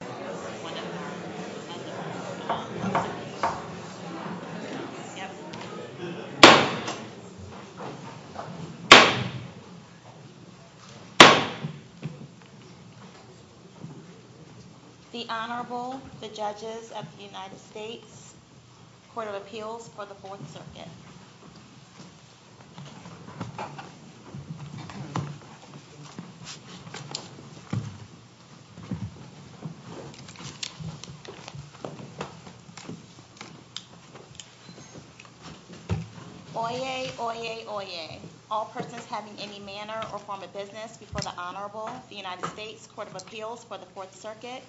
The Honorable, the Judges of the United States, Court of Appeals for the Fourth Circuit. Oyez, oyez, oyez. All persons having any manner or form of business before the Honorable, the United States, Court of Appeals for the Fourth Circuit,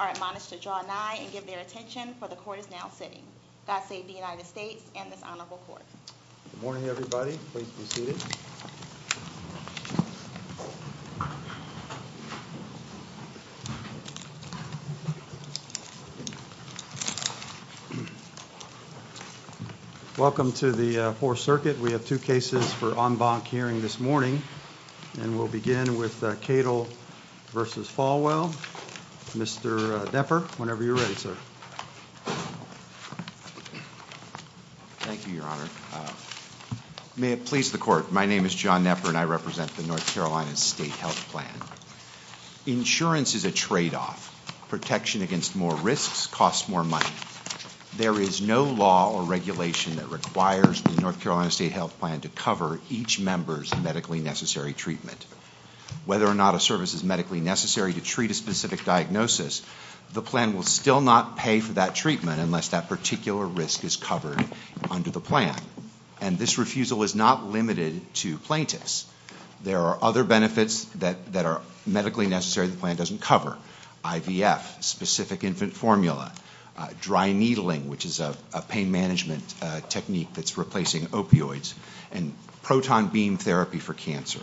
are admonished to draw nigh and give their attention, for the Court is now sitting. God save the United States and the Honorable Court. Good morning, everybody. Please be seated. Welcome to the Fourth Circuit. We have two cases for en banc hearing this morning, and we'll begin with Kadel v. Folwell. Mr. Knepper, whenever you're ready, sir. Thank you, Your Honor. May it please the Court, my name is John Knepper, and I represent the North Carolina State Health Plan. Insurance is a tradeoff. Protection against more risks costs more money. There is no law or regulation that requires the North Carolina State Health Plan to cover each member's medically necessary treatment. Whether or not a service is medically necessary to treat a specific diagnosis, the plan will still not pay for that treatment unless that particular risk is covered under the plan, and this refusal is not limited to plaintiffs. There are other benefits that are medically necessary the plan doesn't cover. IVF, specific infant formula, dry needling, which is a pain management technique that's replacing opioids, and proton beam therapy for cancer.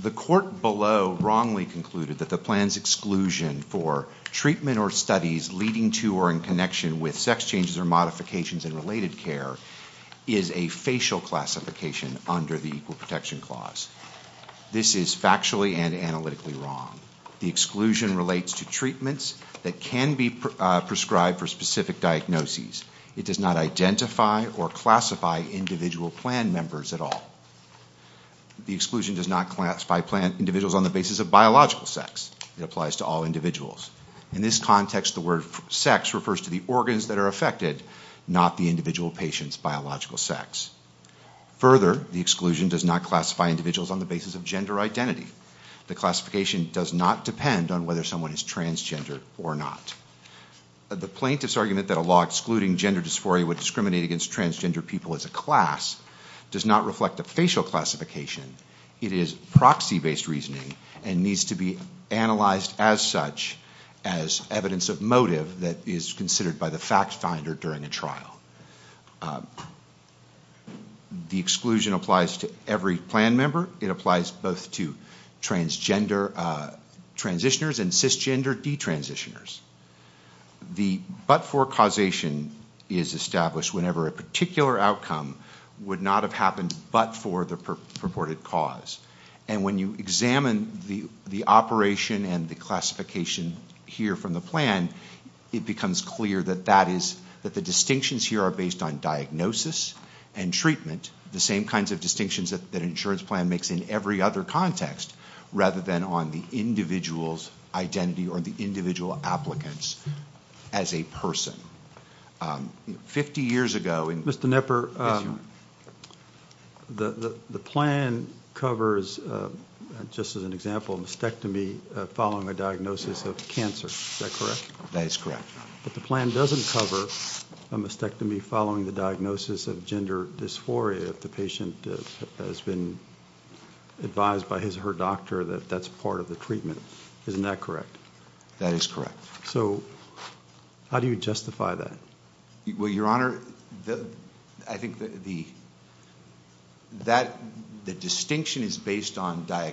The court below wrongly concluded that the plan's exclusion for treatment or studies leading to or in connection with sex changes or modifications in related care is a facial classification under the Equal Protection Clause. This is factually and analytically wrong. The exclusion relates to treatments that can be prescribed for specific diagnoses. It does not identify or classify individual plan members at all. The exclusion does not classify individuals on the basis of biological sex. It applies to all individuals. In this context, the word sex refers to the organs that are affected, not the individual patient's biological sex. Further, the exclusion does not classify individuals on the basis of gender identity. The classification does not depend on whether someone is transgender or not. The plaintiff's argument that a law excluding gender dysphoria would discriminate against transgender people as a class does not reflect the facial classification. It is proxy-based reasoning and needs to be analyzed as such as evidence of motive that is considered by the fact finder during a trial. The exclusion applies to every plan member. It applies both to transgender transitioners and cisgender de-transitioners. The but-for causation is established whenever a particular outcome would not have happened but for the purported cause. When you examine the operation and the classification here from the plan, it becomes clear that the distinctions here are based on diagnosis and treatment, the same kinds of distinctions that an insurance plan makes in every other context, rather than on the individual's identity or the individual applicant's as a person. Mr. Knepper, the plan covers, just as an example, a mastectomy following a diagnosis of cancer. Is that correct? That is correct. But the plan doesn't cover a mastectomy following the diagnosis of gender dysphoria if the patient has been advised by his or her doctor that that's part of the treatment. Isn't that correct? That is correct. So how do you justify that? But isn't the diagnosis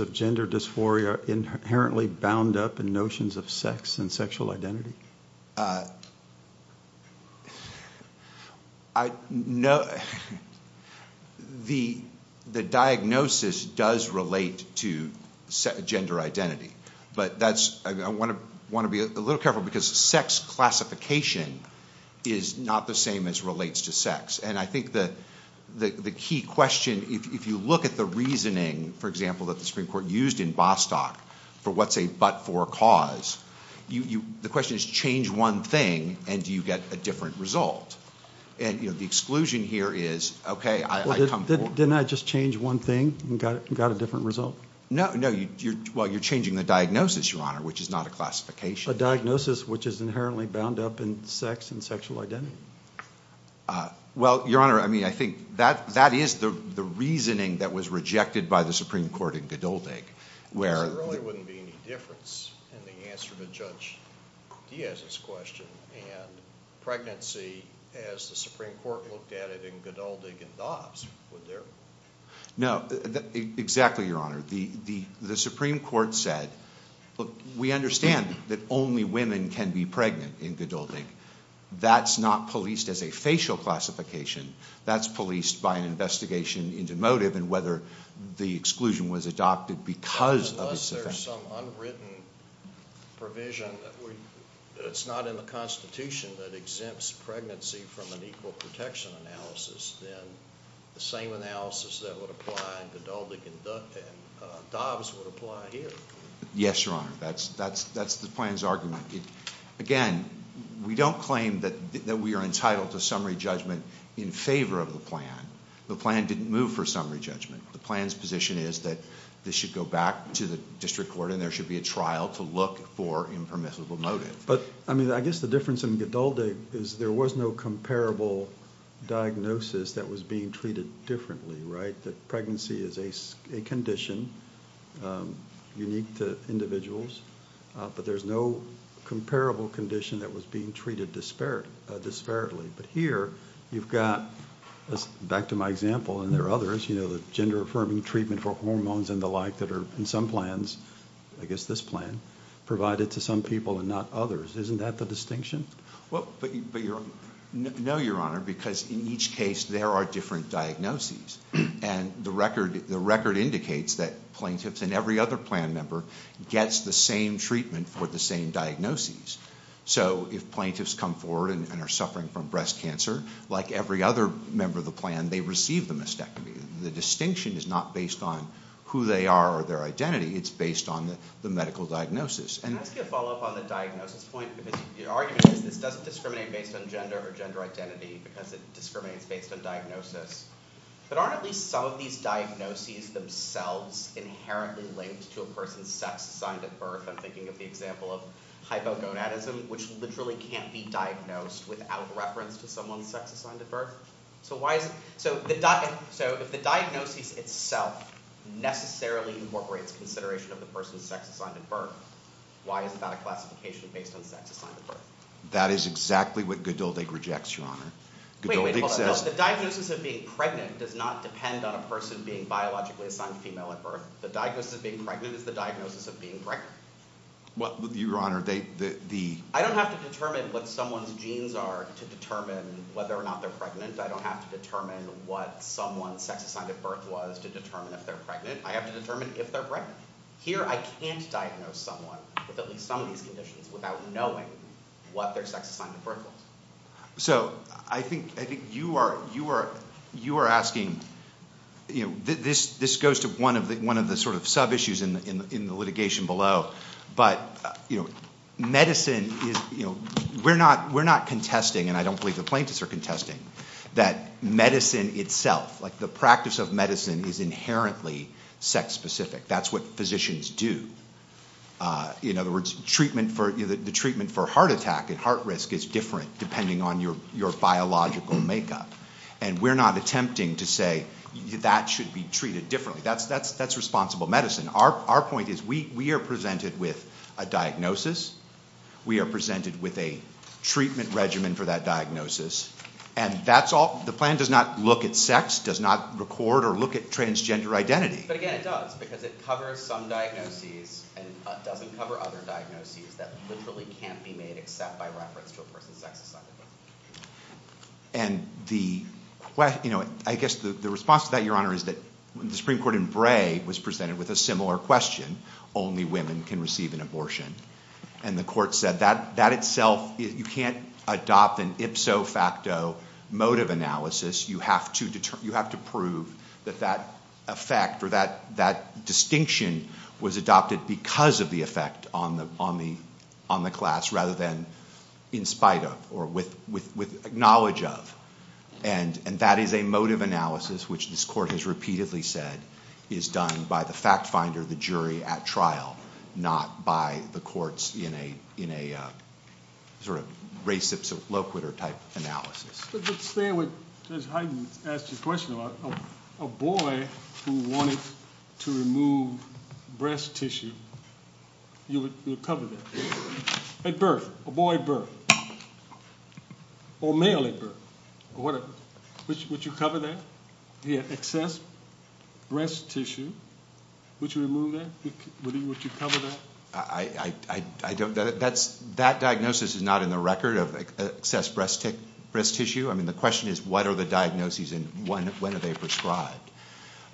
of gender dysphoria inherently bound up in notions of sex and sexual identity? The diagnosis does relate to gender identity, but I want to be a little careful because sex classification is not the same as relates to sex. And I think that the key question, if you look at the reasoning, for example, that the Supreme Court used in Bostock for what's a but-for cause, the question is, change one thing and do you get a different result? And the exclusion here is, okay, I come forward. Didn't I just change one thing and got a different result? No, you're changing the diagnosis, Your Honor, which is not a classification. A diagnosis which is inherently bound up in sex and sexual identity? Well, Your Honor, I mean, I think that is the reasoning that was rejected by the Supreme Court in Geduldig. Because there really wouldn't be any difference in the answer to Judge Diaz's question. And pregnancy, as the Supreme Court looked at it in Geduldig and Doss, were there. No, exactly, Your Honor. The Supreme Court said, look, we understand that only women can be pregnant in Geduldig. That's not policed as a facial classification. That's policed by an investigation into motive and whether the exclusion was adopted because of the… If there's some unwritten provision that's not in the Constitution that exempts pregnancy from an equal protection analysis, then the same analysis that would apply in Geduldig and Doss would apply here. Yes, Your Honor, that's the plan's argument. Again, we don't claim that we are entitled to summary judgment in favor of the plan. The plan didn't move for summary judgment. The plan's position is that this should go back to the district court and there should be a trial to look for impermissible motive. But, I mean, I guess the difference in Geduldig is there was no comparable diagnosis that was being treated differently, right? That pregnancy is a condition unique to individuals, but there's no comparable condition that was being treated disparately. But here, you've got, back to my example, and there are others, you know, the gender-affirming treatment for hormones and the like that are in some plans, I guess this plan, provided to some people and not others. Isn't that the distinction? No, Your Honor, because in each case there are different diagnoses. And the record indicates that plaintiffs and every other plan member gets the same treatment for the same diagnoses. So if plaintiffs come forward and are suffering from breast cancer, like every other member of the plan, they receive the mastectomy. The distinction is not based on who they are or their identity. It's based on the medical diagnosis. Can I ask you a follow-up on the diagnosis point? The argument is that it doesn't discriminate based on gender or gender identity because it discriminates based on diagnosis. But aren't at least some of these diagnoses themselves inherently linked to a person's sex, I'm thinking of the example of hypogonadism, which literally can't be diagnosed without reference to someone's sex assigned at birth. So the diagnosis itself necessarily incorporates consideration of the person's sex assigned at birth. Why is that a classification based on sex assigned at birth? That is exactly what Godeldi rejects, Your Honor. The diagnosis of being pregnant does not depend on a person being biologically assigned female at birth. The diagnosis of being pregnant is the diagnosis of being pregnant. What, Your Honor? I don't have to determine what someone's genes are to determine whether or not they're pregnant. I don't have to determine what someone's sex assigned at birth was to determine if they're pregnant. I have to determine if they're pregnant. Here, I can't diagnose someone with at least some of these conditions without knowing what their sex assigned at birth was. So, I think you are asking, you know, this goes to one of the sort of sub-issues in the litigation below. But, you know, medicine is, you know, we're not contesting, and I don't believe the plaintiffs are contesting, that medicine itself, like the practice of medicine, is inherently sex-specific. That's what physicians do. In other words, the treatment for heart attack and heart risk is different depending on your biological makeup. And we're not attempting to say that should be treated differently. That's responsible medicine. Our point is we are presented with a diagnosis. We are presented with a treatment regimen for that diagnosis. And the plan does not look at sex, does not record or look at transgender identity. But, again, it does because it covers some diagnoses and doesn't cover other diagnoses that literally can't be made except by referential birth and sex. And the question, you know, I guess the response to that, Your Honor, is that when the Supreme Court in Bray was presented with a similar question, only women can receive an abortion. And the court said that itself, you can't adopt an ipso facto mode of analysis. You have to prove that that effect or that distinction was adopted because of the effect on the class rather than in spite of or with acknowledge of. And that is a mode of analysis, which this Court has repeatedly said is done by the fact finder, the jury at trial, not by the courts in a sort of racist or eloquitor type analysis. Let's say, as Hyden asked his question, a boy who wanted to remove breast tissue, you would cover that at birth, a boy at birth, or a male at birth. Would you cover that? The excess breast tissue, would you remove that? Would you cover that? That diagnosis is not in the record of excess breast tissue. I mean, the question is, what are the diagnoses and when are they prescribed?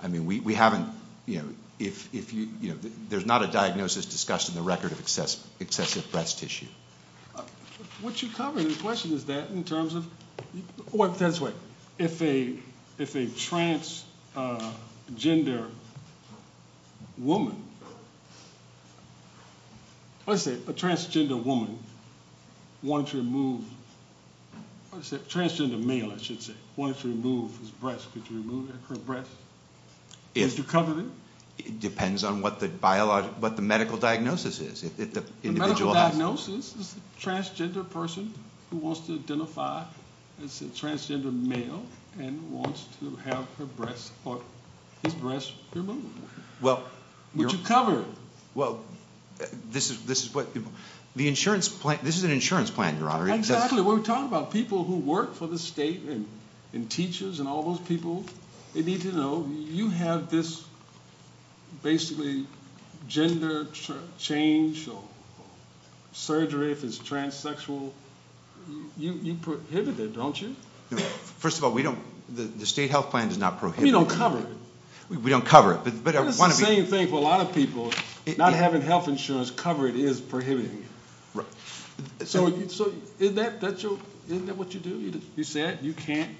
I mean, we haven't, you know, there's not a diagnosis discussed in the record of excessive breast tissue. Would you cover, the question is that in terms of, if a transgender woman wants to remove, a transgender male, I should say, wants to remove his breast, could you remove his breast? Would you cover that? It depends on what the biological, what the medical diagnosis is. The medical diagnosis is a transgender person who wants to identify as a transgender male and wants to have her breast, or his breast removed. Would you cover it? Well, this is what, the insurance plan, this is an insurance plan, Your Honor. Exactly, we're talking about people who work for the state and teachers and all those people. You have this, basically, gender change, surgery if it's transsexual, you prohibit it, don't you? First of all, we don't, the state health plan does not prohibit it. We don't cover it. We don't cover it. It's the same thing for a lot of people, not having health insurance covered is prohibiting it. Right. So, isn't that what you do? You said you can't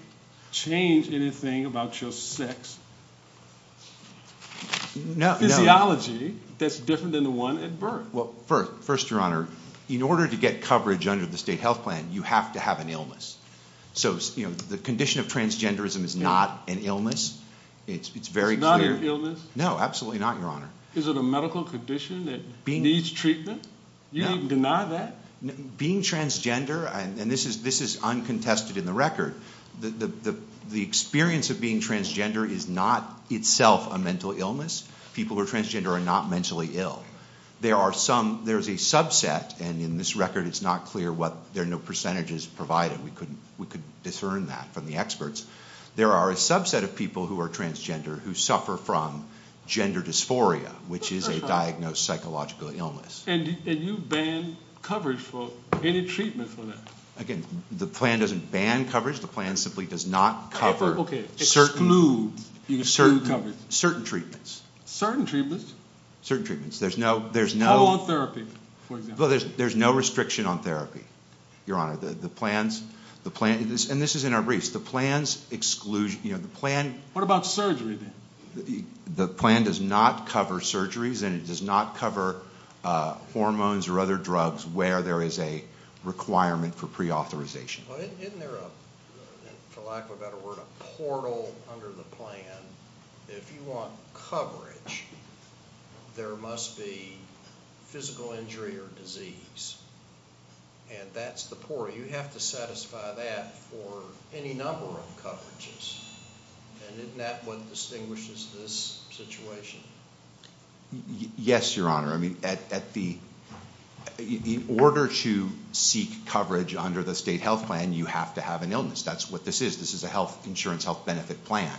change anything about your sex. No. Theology that's different than the one at birth. Well, first, Your Honor, in order to get coverage under the state health plan, you have to have an illness. So, the condition of transgenderism is not an illness. It's very clear. It's not an illness? No, absolutely not, Your Honor. Is it a medical condition that needs treatment? You deny that? Being transgender, and this is uncontested in the record, the experience of being transgender is not itself a mental illness. People who are transgender are not mentally ill. There are some, there's a subset, and in this record it's not clear what, there are no percentages provided. We could discern that from the experts. There are a subset of people who are transgender who suffer from gender dysphoria, which is a diagnosed psychological illness. And you ban coverage for any treatment for that? Again, the plan doesn't ban coverage. The plan simply does not cover certain treatments. Certain treatments? Certain treatments. There's no... Oh, on therapy? There's no restriction on therapy, Your Honor. The plan, and this is in our briefs, the plan's exclusion, you know, the plan... What about surgery, then? The plan does not cover surgeries, and it does not cover hormones or other drugs where there is a requirement for preauthorization. Isn't there, for lack of a better word, a portal under the plan? If you want coverage, there must be physical injury or disease. And that's the portal. You have to satisfy that for any number of coverages. And isn't that what distinguishes this situation? Yes, Your Honor. I mean, in order to seek coverage under the state health plan, you have to have an illness. That's what this is. This is a health insurance health benefit plan.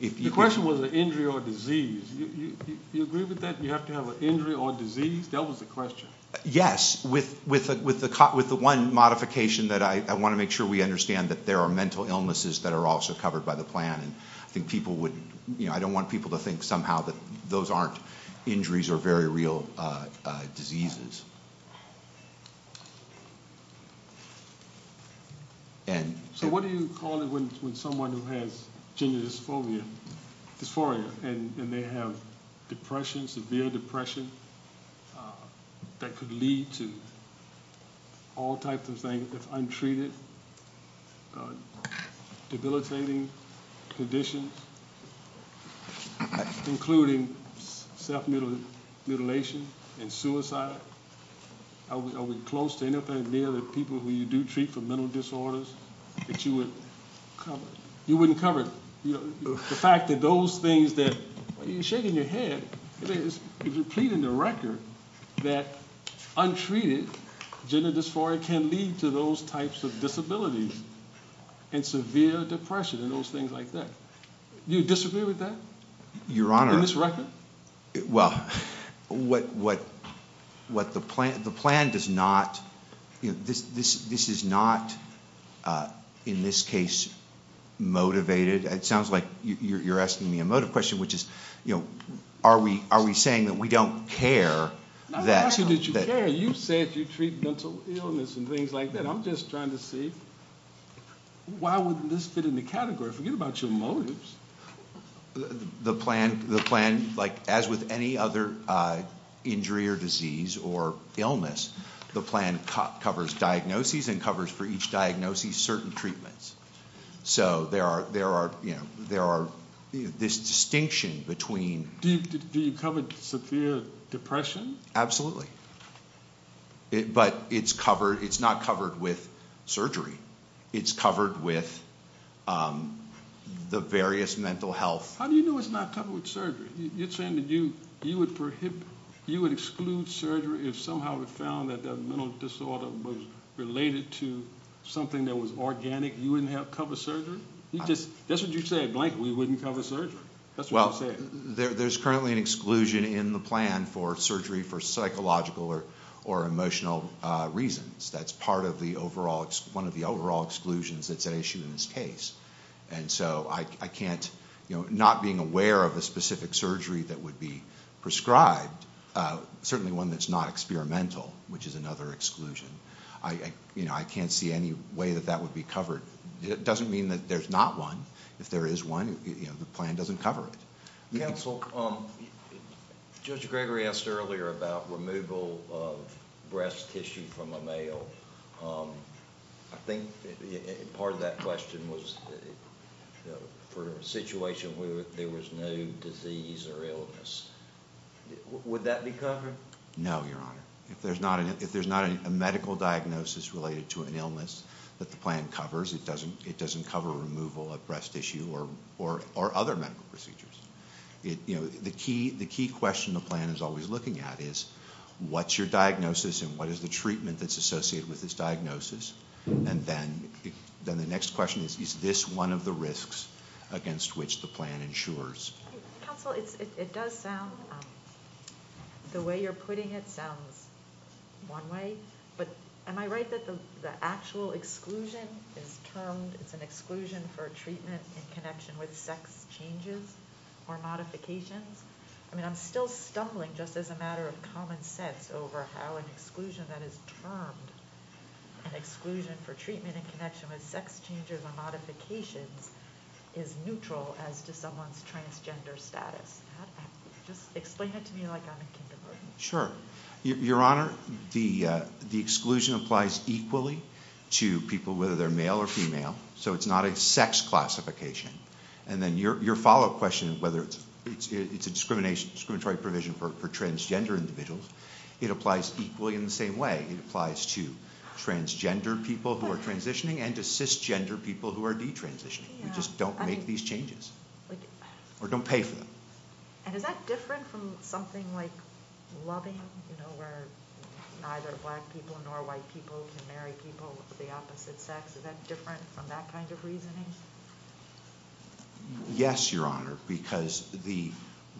The question was injury or disease. Do you agree with that, you have to have an injury or disease? That was the question. Yes, with the one modification that I want to make sure we understand that there are mental illnesses that are also covered by the plan. I think people would, you know, I don't want people to think somehow that those aren't injuries or very real diseases. So what do you call it when someone who has junior dysphoria and they have depression, severe depression, that could lead to all types of things, untreated, debilitating conditions, including self-mutilation and suicide? I was close to anything near the people who you do treat for mental disorders that you would cover. You wouldn't cover it. The fact that those things that, you're shaking your head. If you're pleading the record that untreated junior dysphoria can lead to those types of disabilities and severe depression and those things like that. Do you disagree with that? Your Honor. In this record? Well, what the plan, the plan does not, this is not in this case motivated. It sounds like you're asking me a motive question, which is, you know, are we saying that we don't care that. I'm not asking that you care. You said you treat mental illness and things like that. I'm just trying to see why wouldn't this fit in the category. Forget about your motives. The plan, like as with any other injury or disease or illness, the plan covers diagnoses and covers for each diagnosis certain treatments. So there are, you know, there are this distinction between. Do you cover severe depression? Absolutely. But it's covered, it's not covered with surgery. It's covered with the various mental health. How do you know it's not covered with surgery? You're saying that you would exclude surgery if somehow it was found that the mental disorder was related to something that was organic. You wouldn't cover surgery? That's what you said. Blankly wouldn't cover surgery. Well, there's currently an exclusion in the plan for surgery for psychological or emotional reasons. That's part of the overall, one of the overall exclusions that's at issue in this case. And so I can't, you know, not being aware of a specific surgery that would be prescribed, certainly one that's not experimental, which is another exclusion. I can't see any way that that would be covered. It doesn't mean that there's not one. If there is one, you know, the plan doesn't cover it. Counsel, Judge Gregory asked earlier about removal of breast tissue from a male. I think part of that question was for a situation where there was no disease or illness. Would that be covered? No, Your Honor. If there's not a medical diagnosis related to an illness that the plan covers, it doesn't cover removal of breast tissue or other medical procedures. You know, the key question the plan is always looking at is, what's your diagnosis and what is the treatment that's associated with this diagnosis? And then the next question is, is this one of the risks against which the plan ensures? Counsel, it does sound, the way you're putting it sounds one way, but am I right that the actual exclusion is termed as an exclusion for treatment in connection with sex changes or modifications? I mean, I'm still stumbling just as a matter of common sense over how an exclusion that is termed an exclusion for treatment in connection with sex changes or modifications is neutral as to someone's transgender status. Explain that to me like I'm in kindergarten. Sure. Your Honor, the exclusion applies equally to people whether they're male or female, so it's not a sex classification. And then your follow-up question, whether it's a discriminatory provision for transgender individuals, it applies equally in the same way. It applies to transgender people who are transitioning and to cisgender people who are detransitioning. We just don't make these changes or don't pay for them. And is that different from something like loving, you know, where either black people or white people can marry people of the opposite sex? Is that different from that kind of reasoning? Yes, Your Honor, because the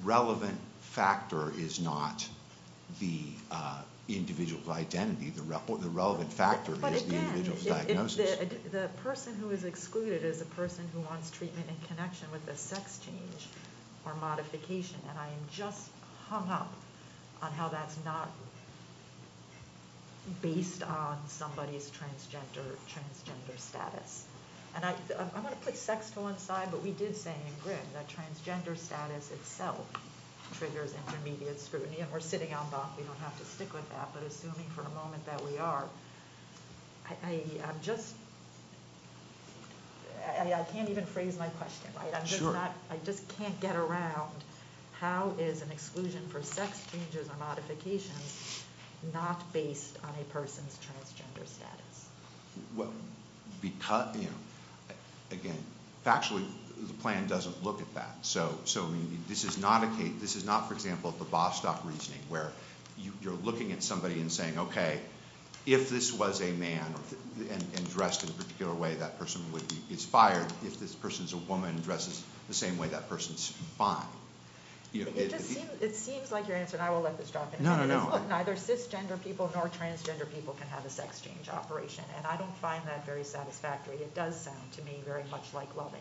relevant factor is not the individual's identity. The relevant factor is the individual's diagnosis. The person who is excluded is the person who wants treatment in connection with a sex change or modification, and I am just hung up on how that's not based on somebody's transgender status. And I want to put sex to one side, but we did say in Grimm that transgender status itself triggers intermediate scrutiny, and we're sitting on both, we don't have to stick with that, but assuming for the moment that we are, I'm just, I mean, I can't even phrase my question right. I'm just not, I just can't get around how is an exclusion for sex changes or modifications not based on a person's transgender status. Because, you know, again, factually the plan doesn't look at that. So this is not, for example, the Bostock reasoning where you're looking at somebody and saying, okay, if this was a man and dressed in a particular way, that person would be expired. If this person's a woman and dresses the same way, that person's fine. It just seems like, and I will let this drop in here, but neither cisgender people nor transgender people can have a sex change operation. And I don't find that very satisfactory. It does sound to me very much like loving.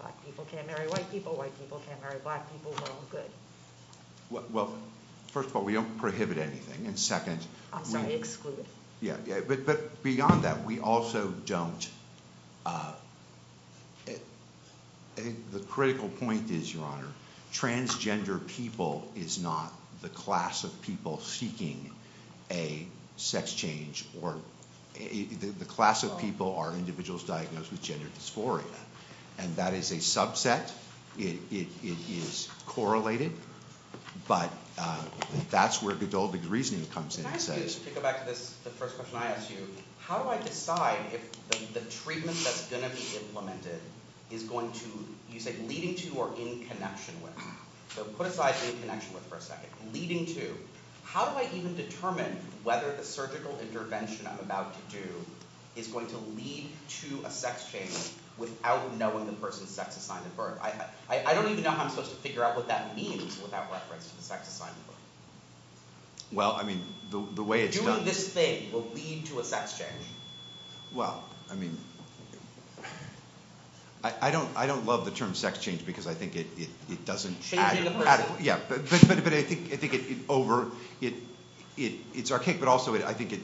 Black people can't marry white people. White people can't marry black people. Well, first of all, we don't prohibit anything. And second, I'm not excluded. But beyond that, we also don't, I think the critical point is, Your Honor, transgender people is not the class of people seeking a sex change. The class of people are individuals diagnosed with gender dysphoria. And that is a subset. It is correlated. But that's where the Dolby reasoning comes in. Can I just go back to the first question I asked you? How do I decide if the treatment that's going to be implemented is going to, you said leading to or in connection with? So put aside in connection with for a second. Leading to. How do I even determine whether the surgical intervention I'm about to do is going to lead to a sex change without knowing the person's sex assigned at birth? I don't even know how I'm supposed to figure out what that means without reference to the sex assigned at birth. Well, I mean, the way it's done. If you want this thing to lead to a sex change. Well, I mean, I don't love the term sex change because I think it doesn't add it. But I think it's over. It's archaic, but also I think it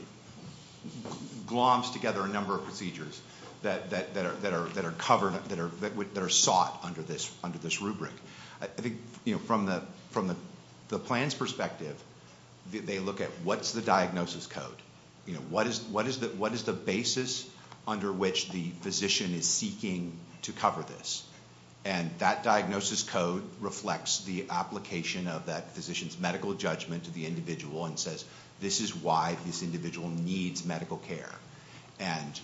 gloms together a number of procedures that are covered, that are sought under this rubric. From the plan's perspective, they look at what's the diagnosis code? What is the basis under which the physician is seeking to cover this? And that diagnosis code reflects the application of that physician's medical judgment to the individual and says this is why this individual needs medical care. And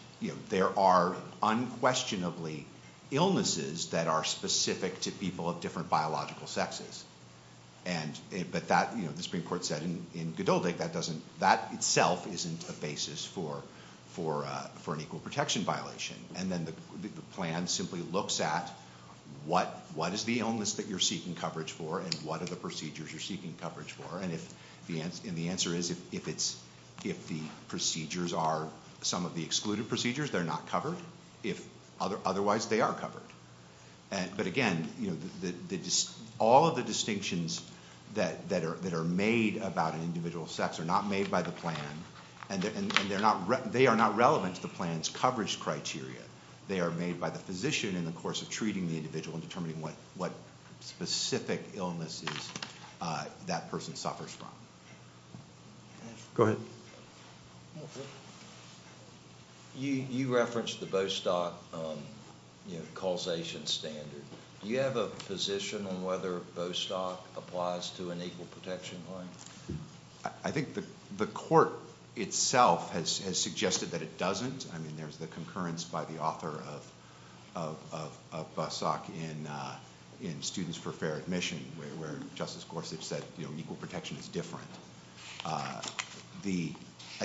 there are unquestionably illnesses that are specific to people of different biological sexes. But that, the Supreme Court said in Godot Lake, that itself isn't a basis for an equal protection violation. And then the plan simply looks at what is the illness that you're seeking coverage for and what are the procedures you're seeking coverage for. And the answer is if the procedures are some of the excluded procedures, they're not covered. Otherwise, they are covered. But again, all of the distinctions that are made about individual sex are not made by the plan. And they are not relevant to the plan's coverage criteria. They are made by the physician in the course of treating the individual and determining what specific illnesses that person suffers from. Go ahead. You referenced the Bostock causation standard. Do you have a position on whether Bostock applies to an equal protection plan? I think the court itself has suggested that it doesn't. I mean, there's the concurrence by the author of Bostock in Students for Fair Admission where Justice Gorsuch said, you know, equal protection is different. I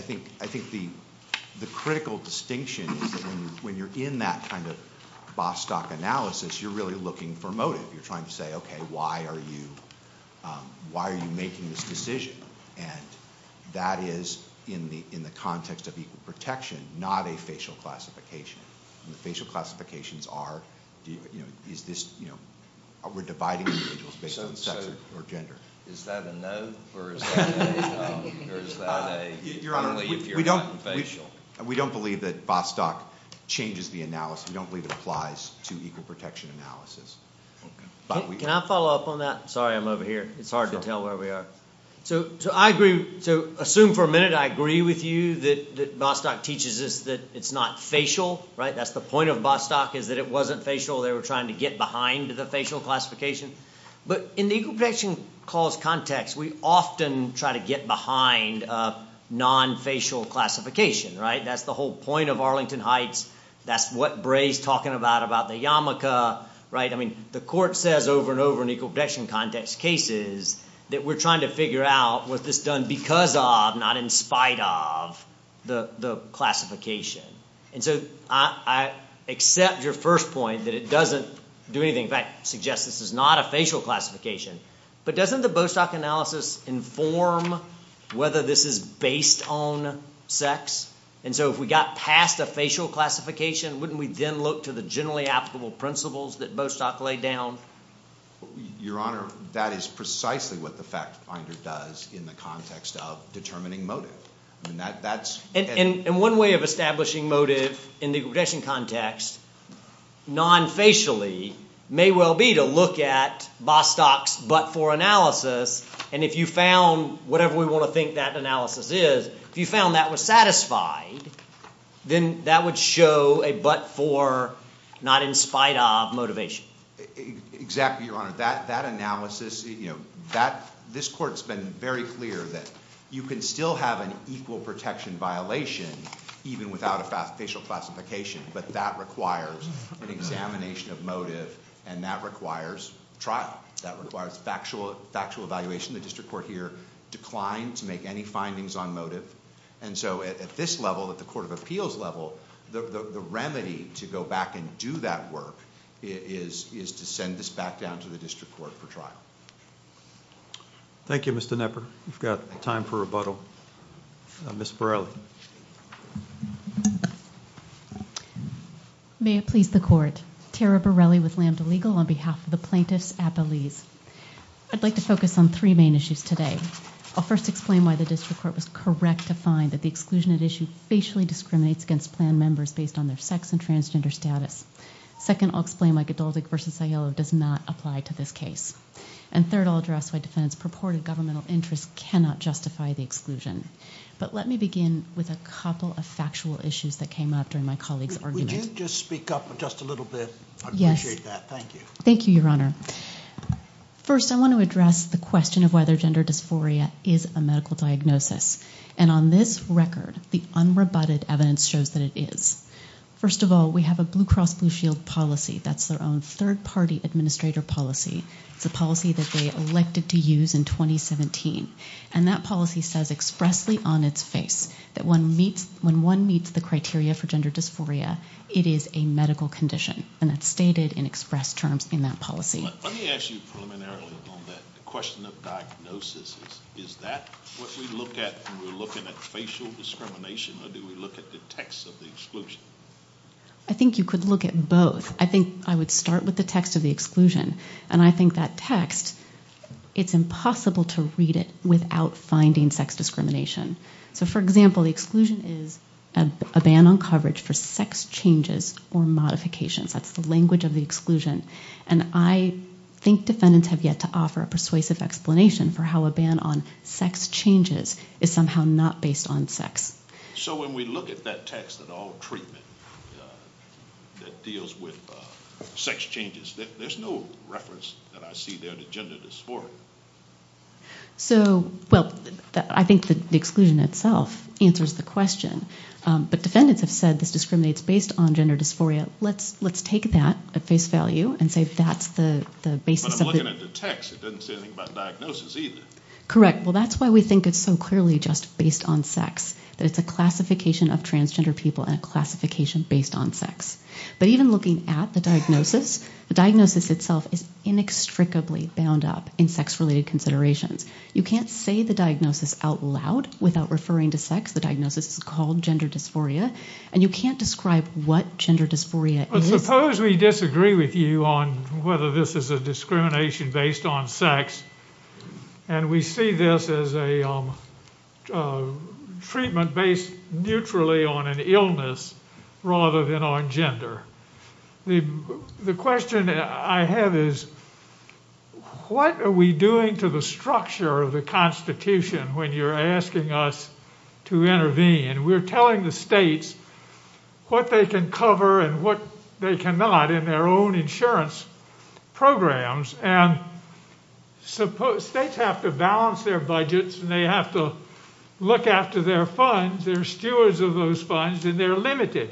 think the critical distinction when you're in that kind of Bostock analysis, you're really looking for motive. You're trying to say, okay, why are you making this decision? And that is, in the context of equal protection, not a facial classification. Facial classifications are, you know, we're dividing the individual based on sex or gender. Is that a no or is that a no? Your Honor, we don't believe that Bostock changes the analysis. We don't believe it applies to equal protection analysis. Can I follow up on that? Sorry, I'm over here. It's hard to tell where we are. So I agree. So assume for a minute I agree with you that Bostock teaches us that it's not facial, right? That's the point of Bostock is that it wasn't facial. They were trying to get behind the facial classification. But in the equal protection clause context, we often try to get behind non-facial classification, right? That's the whole point of Arlington Heights. That's what Bray's talking about, about the yarmulke, right? I mean, the court says over and over in equal protection context cases that we're trying to figure out, was this done because of, not in spite of, the classification? And so I accept your first point that it doesn't do anything. In fact, I suggest this is not a facial classification. But doesn't the Bostock analysis inform whether this is based on sex? And so if we got past the facial classification, wouldn't we then look to the generally applicable principles that Bostock laid down? Your Honor, that is precisely what the fact finder does in the context of determining motive. And one way of establishing motive in the equal protection context, non-facially, may well be to look at Bostock's but-for analysis, and if you found whatever we want to think that analysis is, if you found that was satisfied, then that would show a but-for, not in spite of, motivation. Exactly, Your Honor. That analysis, you know, this court's been very clear that you can still have an equal protection violation even without a facial classification, but that requires an examination of motive, and that requires trial. That requires factual evaluation. The district court here declined to make any findings on motive. And so at this level, at the court of appeals level, the remedy to go back and do that work is to send this back down to the district court for trial. Thank you, Mr. Knepper. We've got time for rebuttal. Ms. Borelli. May it please the Court. Tara Borelli with Lambda Legal on behalf of the plaintiffs at Belize. I'd like to focus on three main issues today. I'll first explain why the district court was correct to find that the exclusion of issues facially discriminates against plan members based on their sex and transgender status. Second, I'll explain why Cadillac v. Sayo does not apply to this case. And third, I'll address why defendants' purported governmental interests cannot justify the exclusion. But let me begin with a couple of factual issues that came up during my colleague's argument. If you could just speak up just a little bit, I'd appreciate that. Thank you. Thank you, Your Honor. First, I want to address the question of whether gender dysphoria is a medical diagnosis. And on this record, the unrebutted evidence shows that it is. First of all, we have a Blue Cross Blue Shield policy. That's their own third-party administrator policy, the policy that they elected to use in 2017. And that policy says expressly on its face that when one meets the criteria for gender dysphoria, it is a medical condition, and it's stated in express terms in that policy. Let me ask you preliminarily on that question of diagnosis. Is that what we look at when we're looking at facial discrimination, or do we look at the text of the exclusion? I think you could look at both. I think I would start with the text of the exclusion. And I think that text, it's impossible to read it without finding sex discrimination. So, for example, the exclusion is a ban on coverage for sex changes or modifications. That's the language of the exclusion. And I think defendants have yet to offer a persuasive explanation for how a ban on sex changes is somehow not based on sex. So when we look at that text of all treatment that deals with sex changes, there's no reference that I see there to gender dysphoria. So, well, I think the exclusion itself answers the question. But defendants have said this discriminates based on gender dysphoria. Let's take that, the face value, and say that's the basis. But I'm looking at the text. It doesn't say anything about diagnosis either. Correct. Well, that's why we think it's so clearly just based on sex. That it's a classification of transgender people and a classification based on sex. But even looking at the diagnosis, the diagnosis itself is inextricably bound up in sex-related considerations. You can't say the diagnosis out loud without referring to sex. The diagnosis is called gender dysphoria. And you can't describe what gender dysphoria is. Suppose we disagree with you on whether this is a discrimination based on sex. And we see this as a treatment based neutrally on an illness rather than on gender. The question that I have is, what are we doing to the structure of the Constitution when you're asking us to intervene? We're telling the states what they can cover and what they cannot in their own insurance programs. And states have to balance their budgets and they have to look after their funds. They're stewards of those funds and they're limited.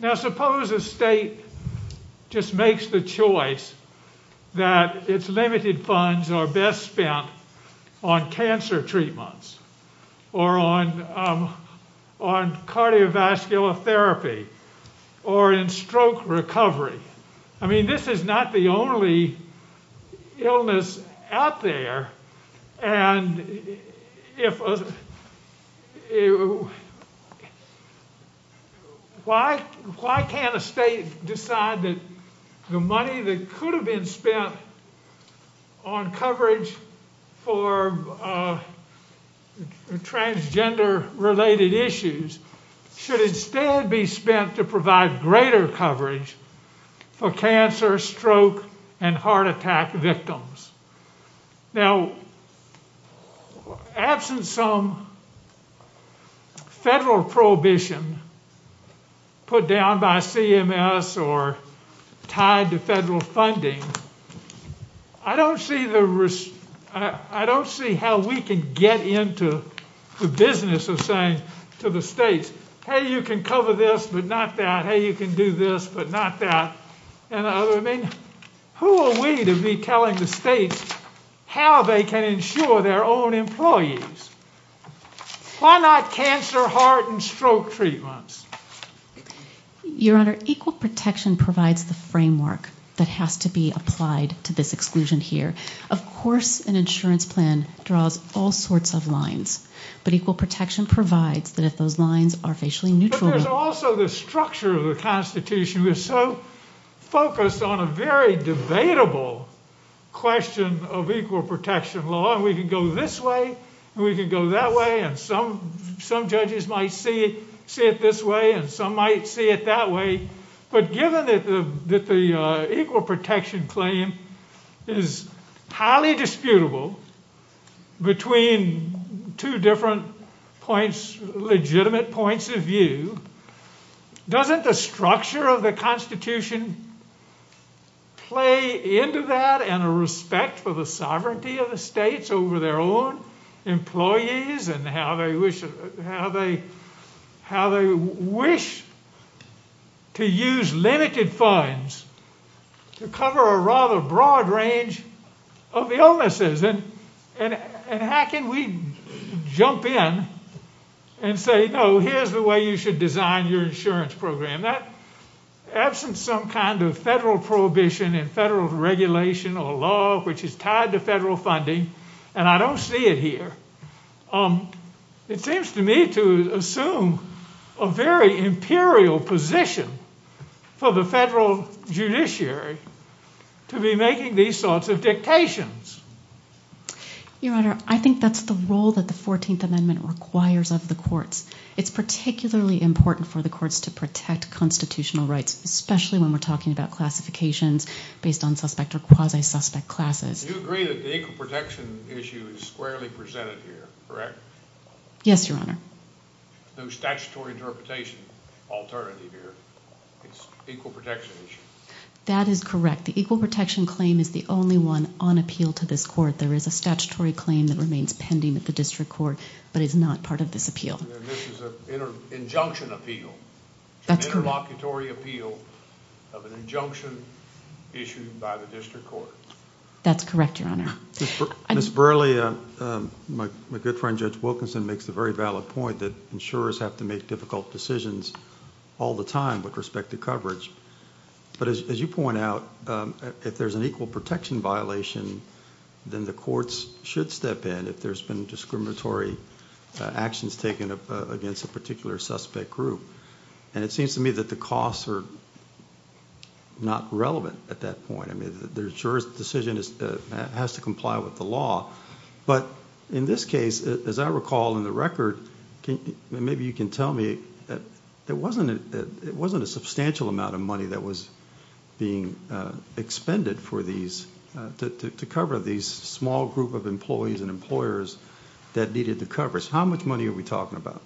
Now suppose a state just makes the choice that its limited funds are best spent on cancer treatments or on cardiovascular therapy or in stroke recovery. I mean, this is not the only illness out there. And why can't a state decide that the money that could have been spent on coverage for transgender-related issues should instead be spent to provide greater coverage for cancer, stroke, and heart attack victims? Now, absent some federal prohibition put down by CMS or tied to federal funding, I don't see how we can get into the business of saying to the states, Hey, you can cover this, but not that. Hey, you can do this, but not that. Who are we to be telling the states how they can insure their own employees? Why not cancer, heart, and stroke treatments? Your Honor, equal protection provides the framework that has to be applied to this exclusion here. Of course, an insurance plan draws all sorts of lines. But equal protection provides that those lines are facially neutral. But there's also the structure of the Constitution that's so focused on a very debatable question of equal protection law. We can go this way, we can go that way, and some judges might see it this way and some might see it that way. But given that the equal protection claim is highly disputable between two different points, legitimate points of view, doesn't the structure of the Constitution play into that and a respect for the sovereignty of the states over their own employees and how they wish to use limited funds to cover a rather broad range of illnesses? And how can we jump in and say, no, here's the way you should design your insurance program. That, absent some kind of federal prohibition and federal regulation or law which is tied to federal funding, and I don't see it here, it seems to me to assume a very imperial position for the federal judiciary to be making these sorts of dictations. Your Honor, I think that's the role that the 14th Amendment requires of the courts. It's particularly important for the courts to protect constitutional rights, especially when we're talking about classifications based on suspect or quasi-suspect classes. Do you agree that the equal protection issue is squarely presented here, correct? Yes, Your Honor. No statutory interpretation alternative here. It's an equal protection issue. That is correct. The equal protection claim is the only one on appeal to this court. There is a statutory claim that remains pending at the district court, but is not part of this appeal. This is an injunction appeal, an interlocutory appeal of an injunction issued by the district court. That's correct, Your Honor. Ms. Burleigh, my good friend Judge Wilkinson makes the very valid point that insurers have to make difficult decisions all the time with respect to coverage. As you point out, if there's an equal protection violation, then the courts should step in if there's been discriminatory actions taken against a particular suspect group. It seems to me that the costs are not relevant at that point. The insurer's decision has to comply with the law. In this case, as I recall in the record, maybe you can tell me, it wasn't a substantial amount of money that was being expended to cover these small group of employees and employers that needed the coverage. How much money are we talking about?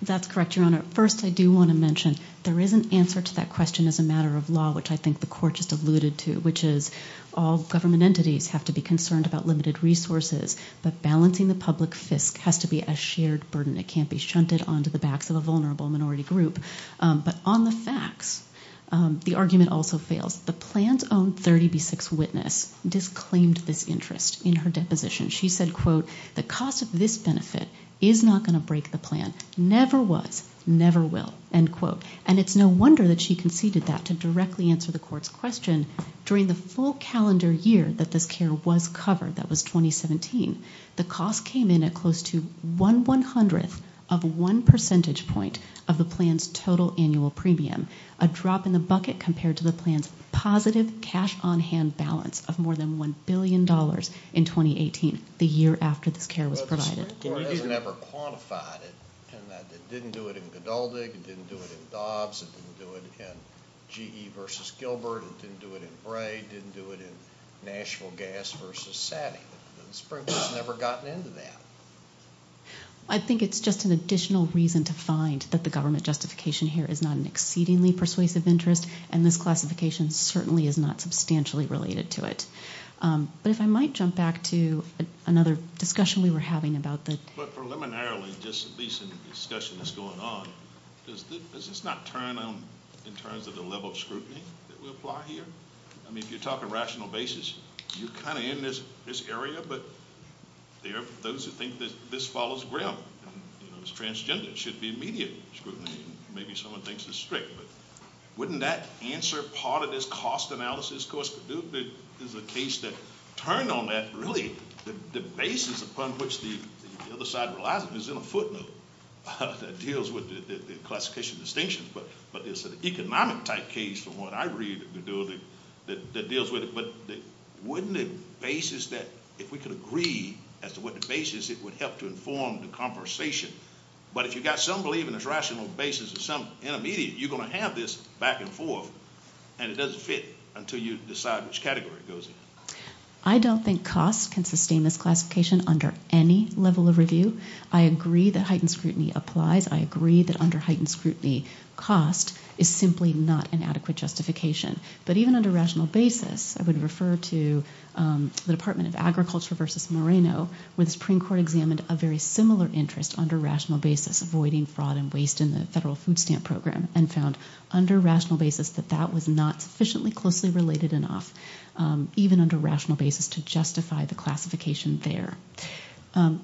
That's correct, Your Honor. First, I do want to mention there is an answer to that question as a matter of law, which I think the court just alluded to, which is all government entities have to be concerned about limited resources, but balancing the public fisc has to be a shared burden. It can't be shunted onto the backs of a vulnerable minority group. But on the facts, the argument also fails. The plan's own 30B6 witness disclaimed this interest in her deposition. She said, quote, the cost of this benefit is not going to break the plan, never was, never will, end quote. And it's no wonder that she conceded that to directly answer the court's question. During the full calendar year that this care was covered, that was 2017, the cost came in at close to one one-hundredth of one percentage point of the plan's total annual premium, a drop in the bucket compared to the plan's positive cash-on-hand balance of more than $1 billion in 2018, the year after this care was provided. The court has never quantified it, in that it didn't do it in Godeldi, it didn't do it in Dobbs, it didn't do it in G.E. versus Gilbert, it didn't do it in Bray, it didn't do it in National Gas versus Savvy. Springfield's never gotten into that. I think it's just an additional reason to find that the government justification here is not an exceedingly persuasive interest, and this classification certainly is not substantially related to it. But if I might jump back to another discussion we were having about this. But preliminarily, this discussion that's going on, does this not turn in terms of the level of scrutiny that we apply here? I mean, if you're talking rational basis, you're kind of in this area, but there are those who think that this follows ground. It's transgender, it should be immediate scrutiny. Maybe someone thinks it's strict, but wouldn't that answer part of this cost analysis? Of course, there's a case that turned on that. Really, the basis upon which the other side relies on is in a footnote that deals with the classification distinctions, but it's an economic type case, from what I read, that deals with it. But wouldn't it basis that if we could agree as to what the basis is, it would help to inform the conversation. But if you've got some belief in a rational basis or some intermediate, you're going to have this back and forth, and it doesn't fit until you decide which category it goes in. I don't think cost can sustain this classification under any level of review. I agree that heightened scrutiny applies. I agree that under heightened scrutiny, cost is simply not an adequate justification. But even under rational basis, I would refer to the Department of Agriculture versus Moreno, where the Supreme Court examined a very similar interest under rational basis, avoiding fraud and waste in the federal food stamp program, and found under rational basis that that was not sufficiently closely related enough, even under rational basis, to justify the classification there.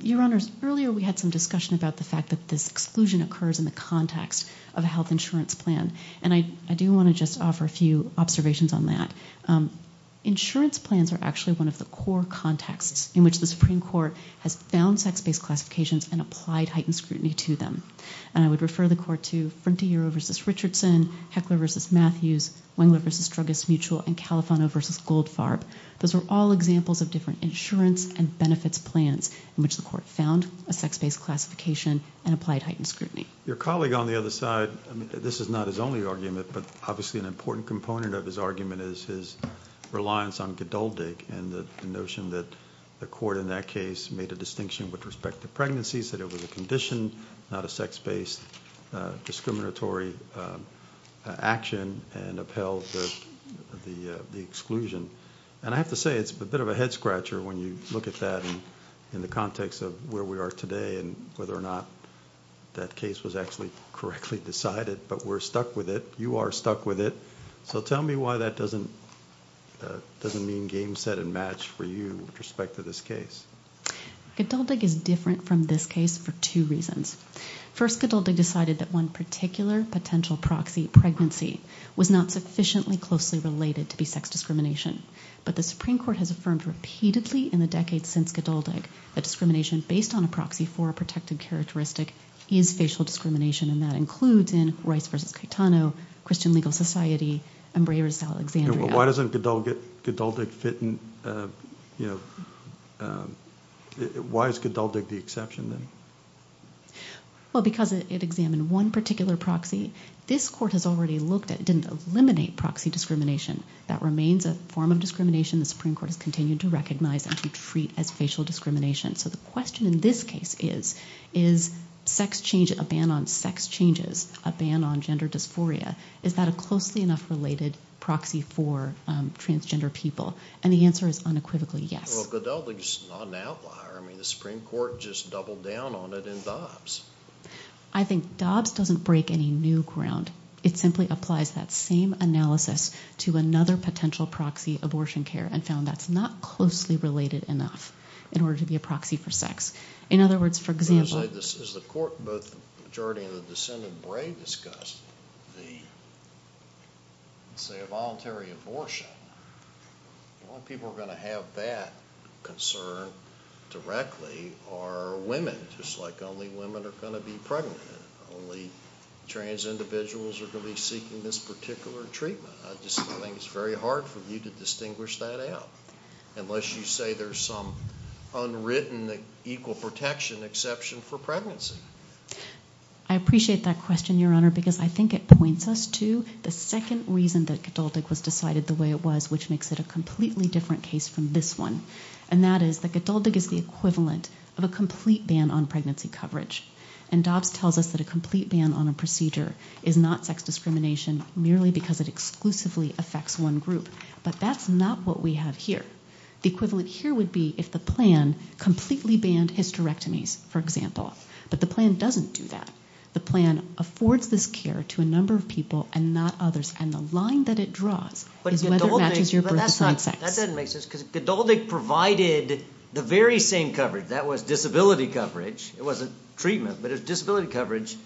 Your Honors, earlier we had some discussion about the fact that this exclusion occurs in the context of a health insurance plan, and I do want to just offer a few observations on that. Insurance plans are actually one of the core contexts in which the Supreme Court has found sex-based classifications and applied heightened scrutiny to them. And I would refer the Court to Frontier versus Richardson, Heckler versus Matthews, Wynwood versus Strugis Mutual, and Califano versus Goldfarb. Those are all examples of different insurance and benefits plans in which the Court found a sex-based classification and applied heightened scrutiny. Your colleague on the other side, this is not his only argument, but obviously an important component of his argument is his reliance on GDULDIG and the notion that the Court in that case made a distinction with respect to pregnancies, that it was a condition, not a sex-based discriminatory action, and upheld the exclusion. And I have to say it's a bit of a head-scratcher when you look at that in the context of where we are today and whether or not that case was actually correctly decided, but we're stuck with it. You are stuck with it. So tell me why that doesn't mean game, set, and match for you with respect to this case. GDULDIG is different from this case for two reasons. First, GDULDIG decided that one particular potential proxy, pregnancy, was not sufficiently closely related to be sex discrimination. But the Supreme Court has affirmed repeatedly in the decades since GDULDIG that discrimination based on a proxy for a protected characteristic is facial discrimination, and that includes in Royce v. Catano, Christian Legal Society, and Brayers v. Alexandria. Why doesn't GDULDIG fit in? Why is GDULDIG the exception then? Well, because it examined one particular proxy. This Court has already looked at and eliminated proxy discrimination. That remains a form of discrimination the Supreme Court has continued to recognize and to treat as facial discrimination. So the question in this case is, is a ban on sex changes, a ban on gender dysphoria, is that a closely enough related proxy for transgender people? And the answer is unequivocally yes. Well, GDULDIG is not an outlier. I mean, the Supreme Court just doubled down on it in Dobbs. I think Dobbs doesn't break any new ground. It simply applies that same analysis to another potential proxy, abortion care, and found that's not closely related enough in order to be a proxy for sex. In other words, for example— As the majority of the dissent in Bray discussed, say a voluntary abortion, the only people who are going to have that concern directly are women. It's like only women are going to be pregnant. Only trans individuals are going to be seeking this particular treatment. It's very hard for me to distinguish that out, unless you say there's some unwritten equal protection exception for pregnancy. I appreciate that question, Your Honor, because I think it points us to the second reason that GDULDIG was decided the way it was, which makes it a completely different case from this one, and that is that GDULDIG is the equivalent of a complete ban on pregnancy coverage. And Dobbs tells us that a complete ban on a procedure is not sex discrimination merely because it exclusively affects one group. But that's not what we have here. The equivalent here would be if the plan completely banned hysterectomies, for example. But the plan doesn't do that. The plan affords this care to a number of people and not others, and the line that it draws is whether it matches your birth content. That doesn't make sense, because GDULDIG provided the very same coverage. That was disability coverage. It wasn't treatment, but it was disability coverage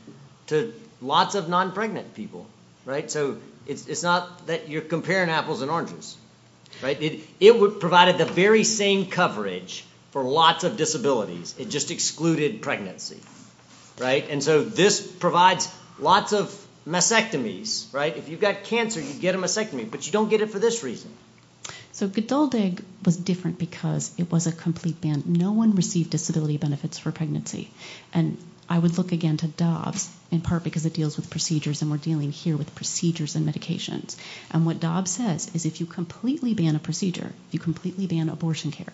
to lots of non-pregnant people. So it's not that you're comparing apples and oranges. It provided the very same coverage for lots of disabilities. It just excluded pregnancy. And so this provides lots of mastectomies. If you've got cancer, you get a mastectomy, but you don't get it for this reason. So GDULDIG was different because it was a complete ban. No one received disability benefits for pregnancy. And I would look again to DOV, in part because it deals with procedures, and we're dealing here with procedures and medications. And what DOV says is if you completely ban a procedure, you completely ban abortion care,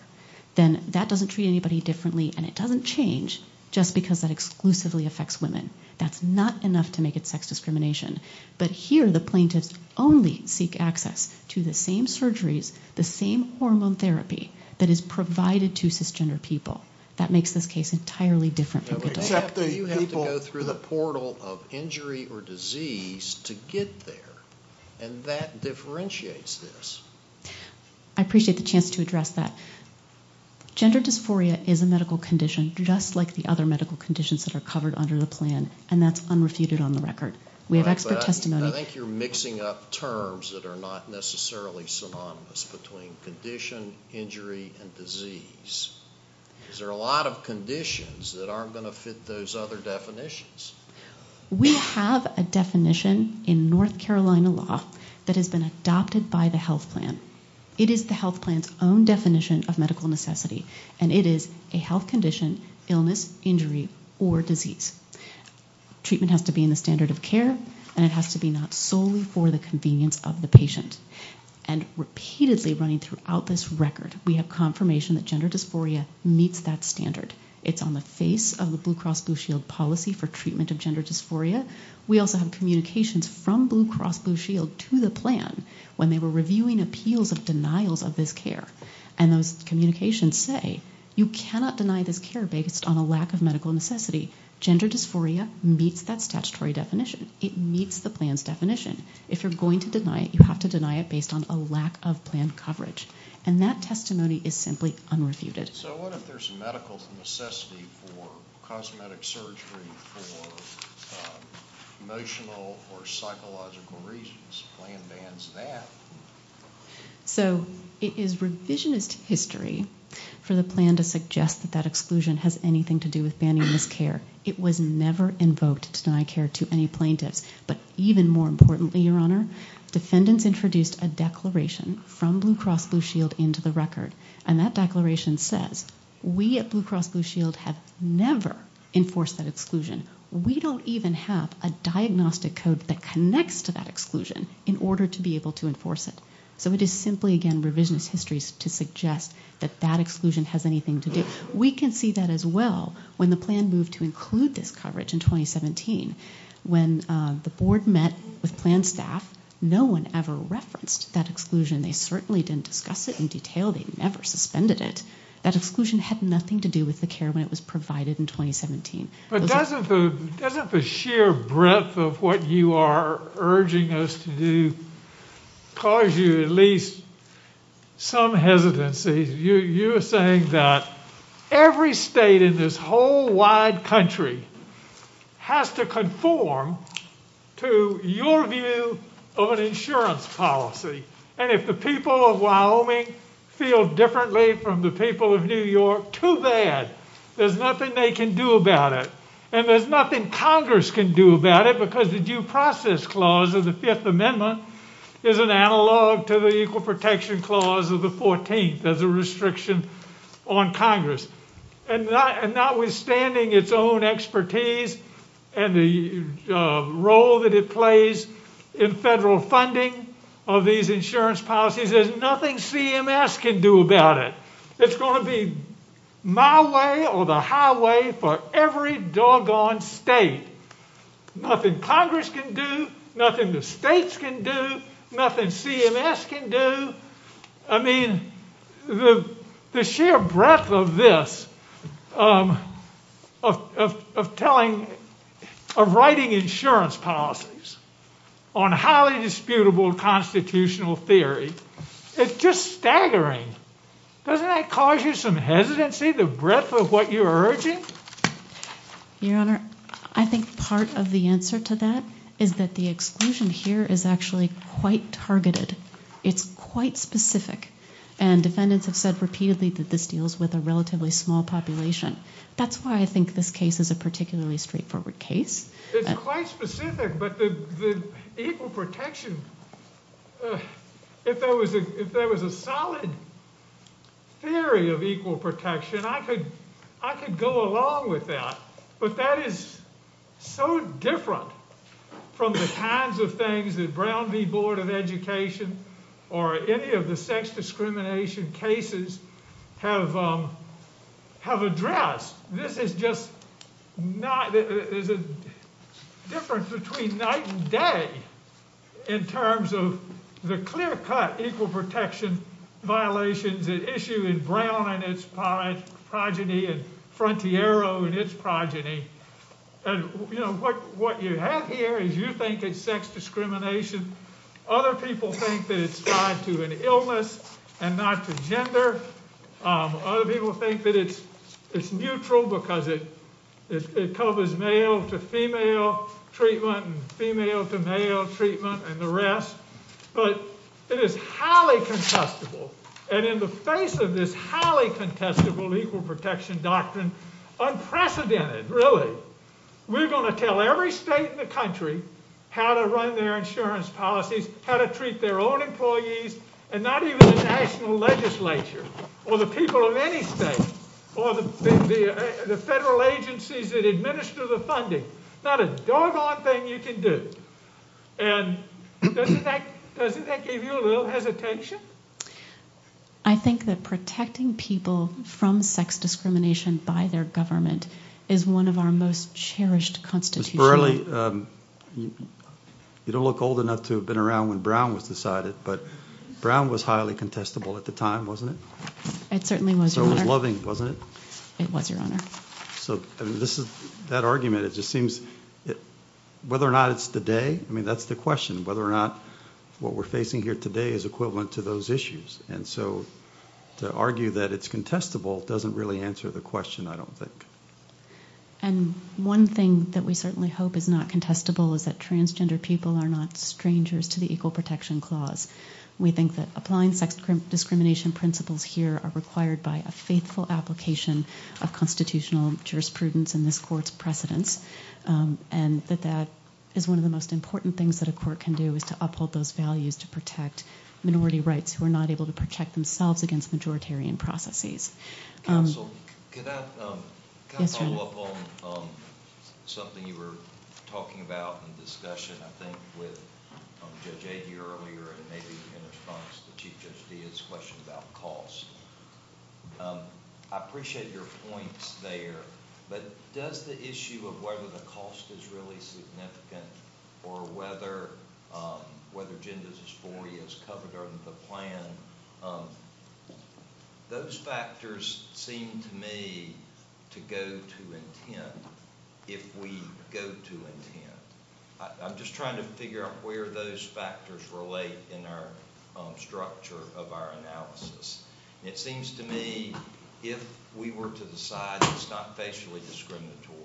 then that doesn't treat anybody differently, and it doesn't change just because that exclusively affects women. That's not enough to make it sex discrimination. But here the plaintiffs only seek access to the same surgeries, the same hormone therapy that is provided to cisgender people. That makes this case entirely different for GDULDIG. You have to go through the portal of injury or disease to get there, and that differentiates this. I appreciate the chance to address that. Gender dysphoria is a medical condition, just like the other medical conditions that are covered under the plan, and that's unrefuted on the record. I think you're mixing up terms that are not necessarily synonymous between condition, injury, and disease. Is there a lot of conditions that aren't going to fit those other definitions? We have a definition in North Carolina law that has been adopted by the health plan. It is the health plan's own definition of medical necessity, and it is a health condition, illness, injury, or disease. Treatment has to be in the standard of care, and it has to be not solely for the convenience of the patient. Repeatedly running throughout this record, we have confirmation that gender dysphoria meets that standard. It's on the face of the Blue Cross Blue Shield policy for treatment of gender dysphoria. We also have communications from Blue Cross Blue Shield to the plan when they were reviewing appeals of denials of this care, and those communications say, you cannot deny this care based on a lack of medical necessity. Gender dysphoria meets that statutory definition. It meets the plan's definition. If you're going to deny it, you have to deny it based on a lack of plan coverage, and that testimony is simply unreviewed. So what if there's a medical necessity for cosmetic surgery for emotional or psychological reasons? The plan bans that. So it is revisionist history for the plan to suggest that that exclusion has anything to do with banning this care. It was never invoked to deny care to any plaintiff, but even more importantly, Your Honor, defendants introduced a declaration from Blue Cross Blue Shield into the record, and that declaration says, we at Blue Cross Blue Shield have never enforced that exclusion. We don't even have a diagnostic code that connects to that exclusion in order to be able to enforce it. So it is simply, again, revisionist history to suggest that that exclusion has anything to do. We can see that as well when the plan moved to include this coverage in 2017 when the board met with plan staff, no one ever referenced that exclusion. They certainly didn't discuss it in detail. They never suspended it. That exclusion had nothing to do with the care when it was provided in 2017. But doesn't the sheer breadth of what you are urging us to do cause you at least some hesitancy? You're saying that every state in this whole wide country has to conform to your view of an insurance policy. And if the people of Wyoming feel differently from the people of New York, too bad. There's nothing they can do about it. And there's nothing Congress can do about it because the Due Process Clause of the Fifth Amendment is an analog to the Equal Protection Clause of the 14th as a restriction on Congress. And notwithstanding its own expertise and the role that it plays in federal funding of these insurance policies, there's nothing CMS can do about it. It's going to be my way or the highway for every doggone state. Nothing Congress can do. Nothing the states can do. Nothing CMS can do. I mean, the sheer breadth of this, of writing insurance policies on highly disputable constitutional theory, it's just staggering. Doesn't that cause you some hesitancy, the breadth of what you're urging? Your Honor, I think part of the answer to that is that the exclusion here is actually quite targeted. It's quite specific. And defendants have said repeatedly that this deals with a relatively small population. That's why I think this case is a particularly straightforward case. It's quite specific, but the equal protection, if there was a solid theory of equal protection, I could go along with that. But that is so different from the kinds of things that Brown v. Board of Education or any of the sex discrimination cases have addressed. This is just not the difference between night and day in terms of the clear-cut equal protection violations that issue in Brown and its progeny and Frontiero and its progeny. What you have here is you think it's sex discrimination. Other people think that it's tied to an illness and not to gender. Other people think that it's neutral because it covers male-to-female treatment and female-to-male treatment and the rest. But it is highly contestable. And in the face of this highly contestable equal protection doctrine, unprecedented, really, we're going to tell every state in the country how to run their insurance policies, how to treat their own employees, and not even the national legislature or the people of any state or the federal agencies that administer the funding. Not a doggone thing you can do. And doesn't that give you a little hesitation? I think that protecting people from sex discrimination by their government is one of our most cherished constitutions. Ms. Borrelli, you don't look old enough to have been around when Brown was decided, but Brown was highly contestable at the time, wasn't it? It certainly was, Your Honor. So it was loving, wasn't it? It was, Your Honor. So that argument, it just seems that whether or not it's today, I mean, that's the question, whether or not what we're facing here today is equivalent to those issues. And so to argue that it's contestable doesn't really answer the question, I don't think. And one thing that we certainly hope is not contestable is that transgender people are not strangers to the Equal Protection Clause. We think that applying sex discrimination principles here are required by a faithful application of constitutional jurisprudence in this court's precedent, and that that is one of the most important things that a court can do is to uphold those values to protect minority rights who are not able to protect themselves against majoritarian processes. Counsel, can I follow up on something you were talking about in the discussion, I think, with Judge Agee earlier, and maybe in response to Chief Judge Deeds' question about cost? I appreciate your point there, but does the issue of whether the cost is really significant or whether gender dysphoria is covered under the plan, those factors seem to me to go to intent if we go to intent. I'm just trying to figure out where those factors relate in our structure of our analysis. It seems to me if we were to decide it's not facially discriminatory,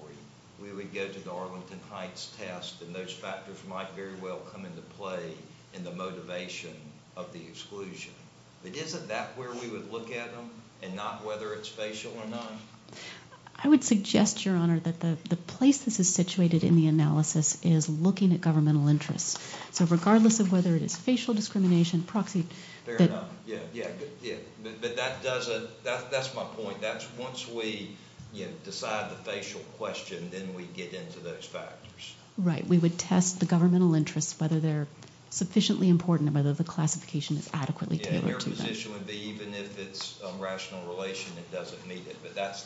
we would go to the Arlington Heights test, and those factors might very well come into play in the motivation of the exclusion. But isn't that where we would look at them and not whether it's facial or not? I would suggest, Your Honor, that the place this is situated in the analysis is looking at governmental interests. So regardless of whether it's facial discrimination, proxy... Fair enough. But that's my point. Once we decide the facial question, then we get into those factors. Right. We would test the governmental interests, whether they're sufficiently important and whether the classification is adequately tailored to them. Yeah, and your position would be even if it's a rational relation, it doesn't meet it. But that's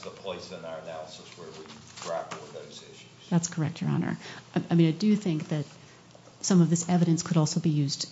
the place in our analysis where we would grapple with those issues. That's correct, Your Honor. I do think that some of this evidence could also be used,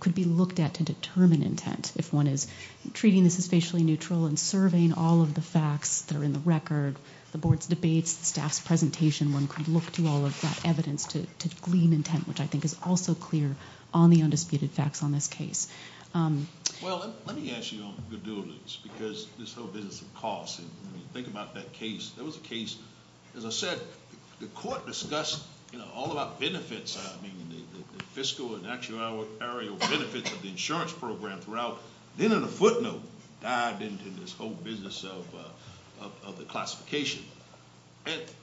could be looked at to determine intent if one is treating this as facially neutral and surveying all of the facts that are in the record, the board's debate, staff's presentation, one could look to all of that evidence to glean intent, which I think is also clear on the undisputed facts on this case. Well, let me ask you on the buildings because this whole business of costs, and when you think about that case, that was a case, as I said, the court discussed, you know, all about benefits. I mean, the fiscal and actuarial benefits of the insurance program throughout. Then on a footnote, dive into this whole business of the classification.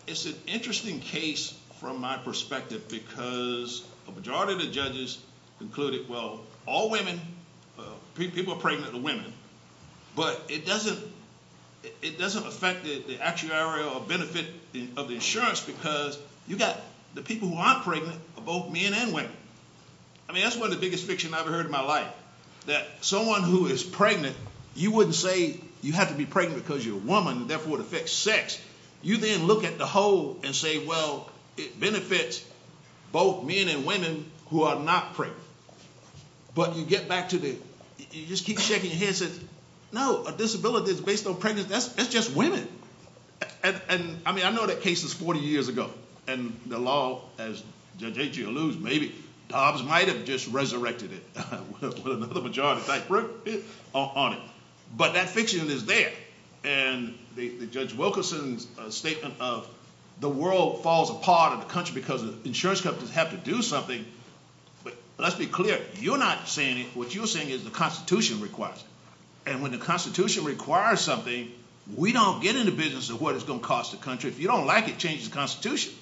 It's an interesting case from my perspective because a majority of the judges concluded, well, all women, people who are pregnant are women. But it doesn't affect the actuarial benefit of the insurance because you've got the people who aren't pregnant are both men and women. I mean, that's one of the biggest fictions I've ever heard in my life, that someone who is pregnant, you wouldn't say you have to be pregnant because you're a woman, therefore it affects sex. You then look at the whole and say, well, it benefits both men and women who are not pregnant. But you get back to the, you just keep shaking your head, and say, no, a disability is based on pregnancy, that's just women. I mean, I know that case was 40 years ago, and the law, as you allude, maybe Dobbs might have just resurrected it with another majority factor on it. But that fiction is there. And Judge Wilkerson's statement of the world falls apart in the country because the insurance companies have to do something. But let's be clear, you're not saying, what you're saying is the Constitution requires it. And when the Constitution requires something, we don't get into business of what it's going to cost the country. If you don't like it, change the Constitution.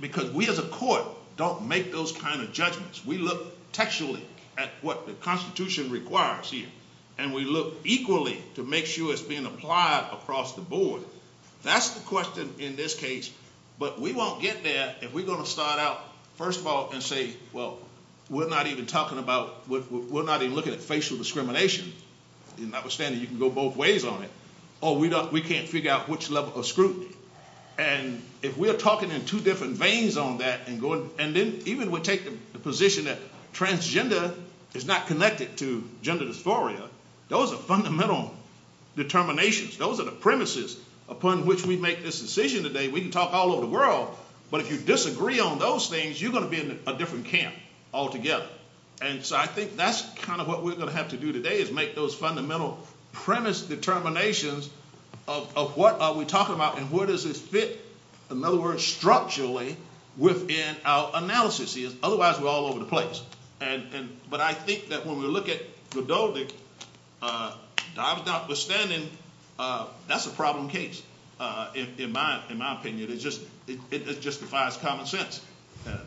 Because we as a court don't make those kind of judgments. We look textually at what the Constitution requires here. And we look equally to make sure it's being applied across the board. That's the question in this case. But we won't get there if we're going to start out, first of all, and say, well, we're not even talking about, we're not even looking at facial discrimination. Notwithstanding, you can go both ways on it. Or we can't figure out which level of scrutiny. And if we're talking in two different veins on that, and then even we're taking the position that transgender is not connected to gender dysphoria, those are fundamental determinations. Those are the premises upon which we make this decision today. We can talk all over the world. But if you disagree on those things, you're going to be in a different camp altogether. And so I think that's kind of what we're going to have to do today is make those fundamental premise determinations of what we're talking about and where does it fit, in other words, structurally within our analysis. Otherwise, we're all over the place. But I think that when we look at Godovic, notwithstanding, that's a problem case, in my opinion. It justifies common sense.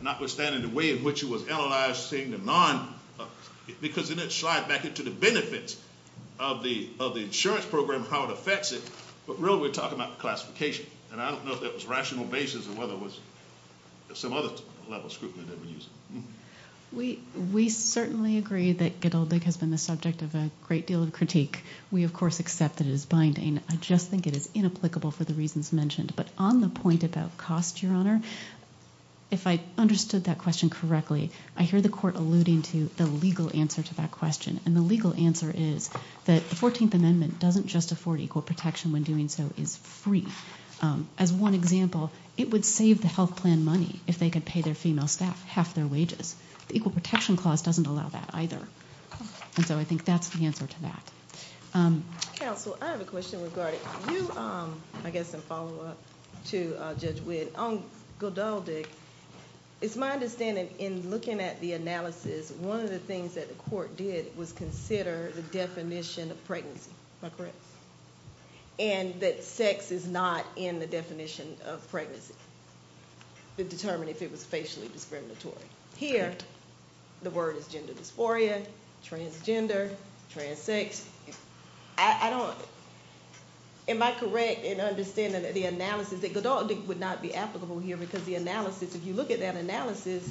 Notwithstanding the way in which it was analyzed, seeing the non, because then it slides back into the benefits of the insurance program and how it affects it. But really, we're talking about the classification. And I don't know if that was rational basis or whether it was some other level of scrutiny that we used. We certainly agree that Godovic has been the subject of a great deal of critique. We, of course, accept that it is binding. I just think it is inapplicable for the reasons mentioned. But on the point about cost, Your Honor, if I understood that question correctly, I hear the court alluding to the legal answer to that question. And the legal answer is that the 14th Amendment doesn't just allow for equal protection when doing so. It's free. As one example, it would save the health plan money if they could pay their female staff half their wages. The Equal Protection Clause doesn't allow that either. And so I think that's the answer to that. Counsel, I have a question regarding you, I guess, in follow-up to Judge Witt. On Godovic, it's my understanding in looking at the analysis, one of the things that the court did was consider the definition of pregnancy. Is that correct? And that sex is not in the definition of pregnancy to determine if it was spatially discriminatory. Here, the word is gender dysphoria, transgender, transsex. I don't, am I correct in understanding that the analysis, that Godovic would not be applicable here because the analysis, if you look at that analysis,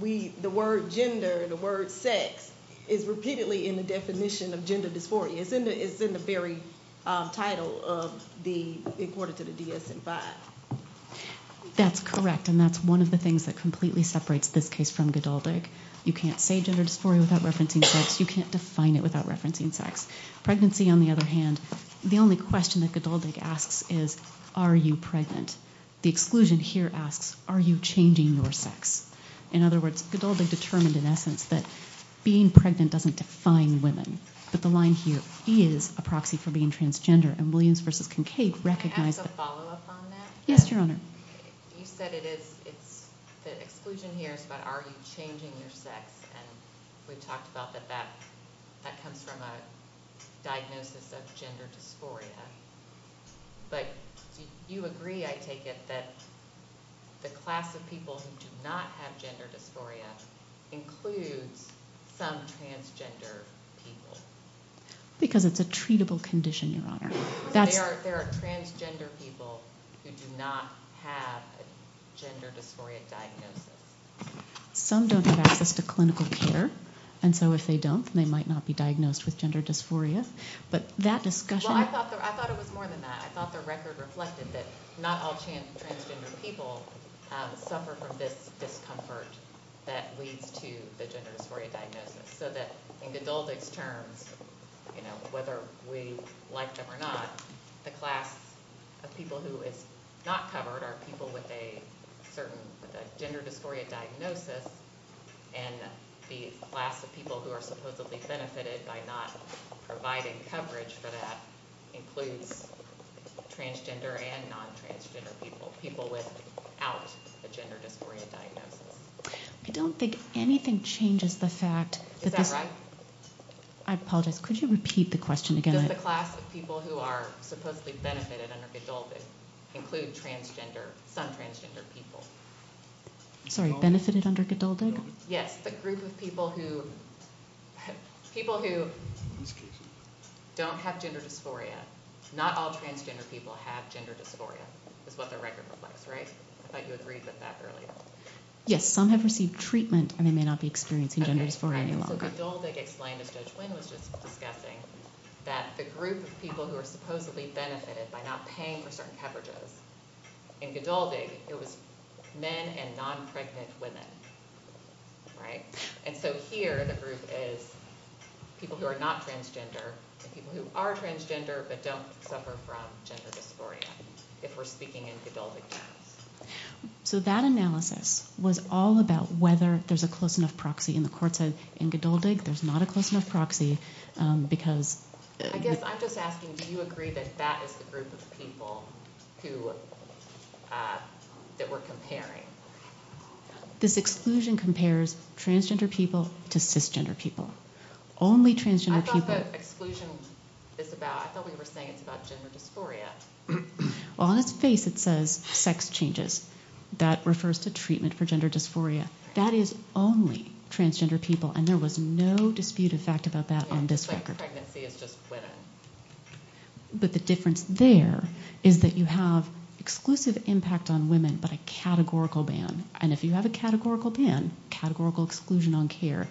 the word gender, the word sex, is repeatedly in the definition of gender dysphoria. It's in the very title of the, according to the DSA-5. That's correct. And that's one of the things that completely separates this case from Godovic. You can't say gender dysphoria without referencing sex. You can't define it without referencing sex. Pregnancy, on the other hand, the only question that Godovic asks is, are you pregnant? The exclusion here asks, are you changing your sex? In other words, Godovic determined, in essence, that being pregnant doesn't define women. But the line here, he is a proxy for being transgender. And Williams v. Kincaid recognized that. Can I ask a follow-up on that? Yes, Your Honor. You said it is, the exclusion here is about are you changing your sex. And we talked about that that comes from a diagnosis of gender dysphoria. But do you agree, I take it, that the class of people who do not have gender dysphoria include some transgender people? Because it's a treatable condition, Your Honor. There are transgender people who do not have a gender dysphoria diagnosis. Some don't have access to clinical care. And so if they don't, they might not be diagnosed with gender dysphoria. But that discussion... Well, I thought it was more than that. I thought the record reflected that not all transgender people suffer from this discomfort that leads to the gender dysphoria diagnosis. So that in Godotic terms, whether we like them or not, the class of people who is not covered are people with a certain gender dysphoria diagnosis. And the class of people who are supposedly benefited by not providing coverage for that includes transgender and non-transgender people, people without a gender dysphoria diagnosis. I don't think anything changes the fact... Is that right? I apologize. Could you repeat the question again? Does the class of people who are supposedly benefited under Godotic include transgender, non-transgender people? Sorry, benefited under Godotic? Yes, the group of people who don't have gender dysphoria. Not all transgender people have gender dysphoria. That's what the record was like, right? I thought you agreed with that earlier. Yes, some have received treatment and they may not be experiencing gender dysphoria anymore. Godotic explained, as Judge Lynn was just discussing, that the group of people who are supposedly benefited by not paying for certain coverages, in Godotic it was men and non-pregnant women. And so here the group is people who are not transgender and people who are transgender but don't suffer from gender dysphoria, if we're speaking in Godotic terms. So that analysis was all about whether there's a close enough proxy. And the court said in Godotic there's not a close enough proxy because... I guess I'm just asking, do you agree that that is the group of people that we're comparing? This exclusion compares transgender people to cisgender people. Only transgender people... What's that exclusion about? I thought we were saying it's about gender dysphoria. Well, on its face it says sex changes. That refers to treatment for gender dysphoria. That is only transgender people and there was no dispute in fact about that on this record. It's not pregnancy, it's just women. But the difference there is that you have exclusive impact on women but a categorical ban. And if you have a categorical ban, categorical exclusion on care,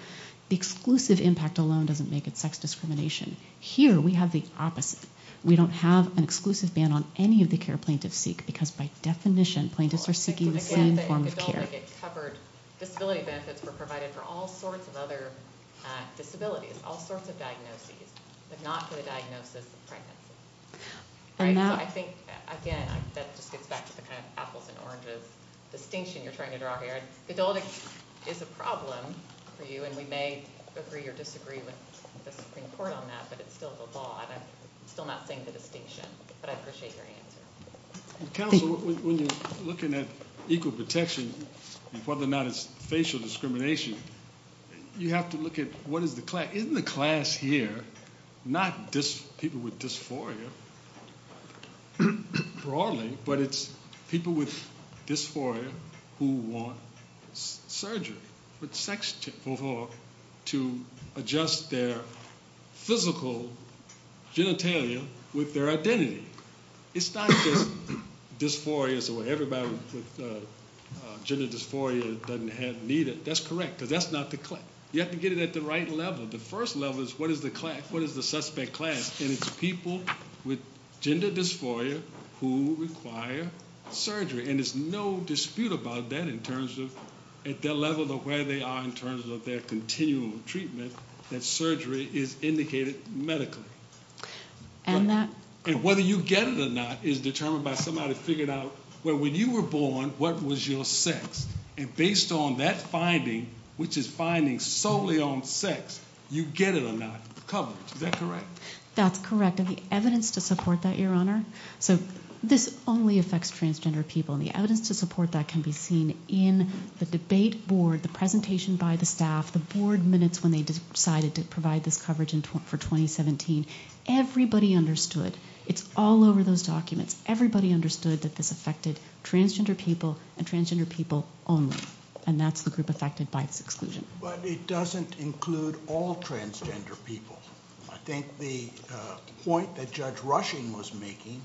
exclusive impact alone doesn't make it sex discrimination. Here we have the opposite. We don't have an exclusive ban on any of the care plaintiffs seek because by definition, plaintiffs are seeking the same form of care. Disability benefits were provided for all sorts of other disabilities, all sorts of diagnoses, if not for the diagnosis of pregnancy. So I think, again, that's back to the kind of apples and oranges distinction you're trying to draw here. Adulthood is a problem for you and we may agree or disagree with the Supreme Court on that but it's still the law and I'm still not saying that it's an issue. But I appreciate your answer. When we're looking at equal protection and whether or not it's facial discrimination, you have to look at what is the class. not people with dysphoria broadly but it's people with dysphoria who want surgery, but sex to adjust their physical genitalia with their identity. It's not just dysphoria where everybody with gender dysphoria doesn't have neither. That's correct because that's not the claim. You have to get it at the right level. The first level is what is the suspect class and it's people with gender dysphoria who require surgery and there's no dispute about that in terms of their level of where they are in terms of their continual treatment that surgery is indicated medically. And whether you get it or not is determined by somebody figuring out when you were born, what was your sex? And based on that finding, which is finding solely on sex, you get it or not. Is that correct? That's correct. We have evidence to support that, Your Honor. This only affects transgender people and the evidence to support that can be seen in the debate board, the presentation by the staff, the board minutes when they decided to provide this coverage for 2017. Everybody understood. It's all over those documents. Everybody understood that this affected transgender people and transgender people only and that's the group affected by this exclusion. But it doesn't include all transgender people. I think the point that Judge Rushing was making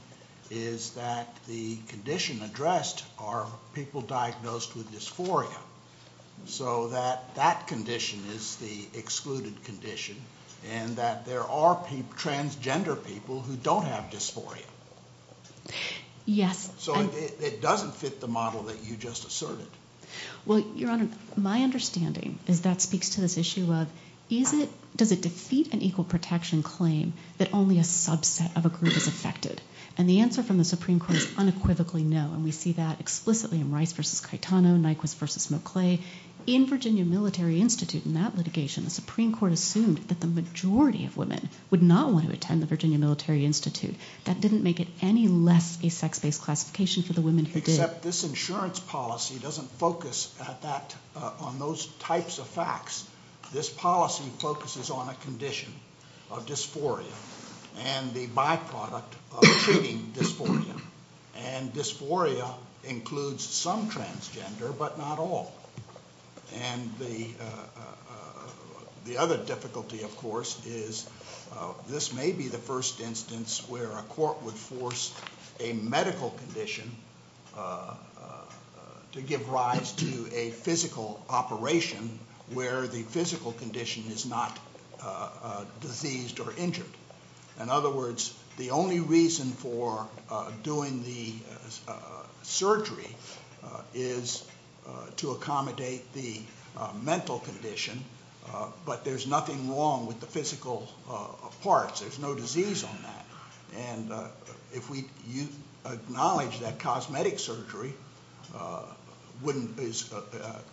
is that the condition addressed are people diagnosed with dysphoria. So that that condition is the excluded condition and that there are transgender people who don't have dysphoria. Yes. So it doesn't fit the model that you just asserted. Well, Your Honor, my understanding is that speaks to this issue of does it defeat an equal protection claim that only a subset of a group is affected? And the answer from the Supreme Court is unequivocally no and we see that explicitly in Rice v. Caetano, Nyquist v. McClay. In Virginia Military Institute, in that litigation, the Supreme Court assumed that the majority of women would not want to attend the Virginia Military Institute. That didn't make it any less a sex-based classification to the women who did. Except this insurance policy doesn't focus on those types of facts. This policy focuses on a condition of dysphoria. And the byproduct of treating dysphoria. And dysphoria includes some transgender, but not all. And the other difficulty, of course, is this may be the first instance where a court would force a medical condition to give rise to a physical operation where the physical condition is not diseased or injured. In other words, the only reason for doing the surgery is to accommodate the mental condition, but there's nothing wrong with the physical parts. There's no disease on that. And if we acknowledge that cosmetic surgery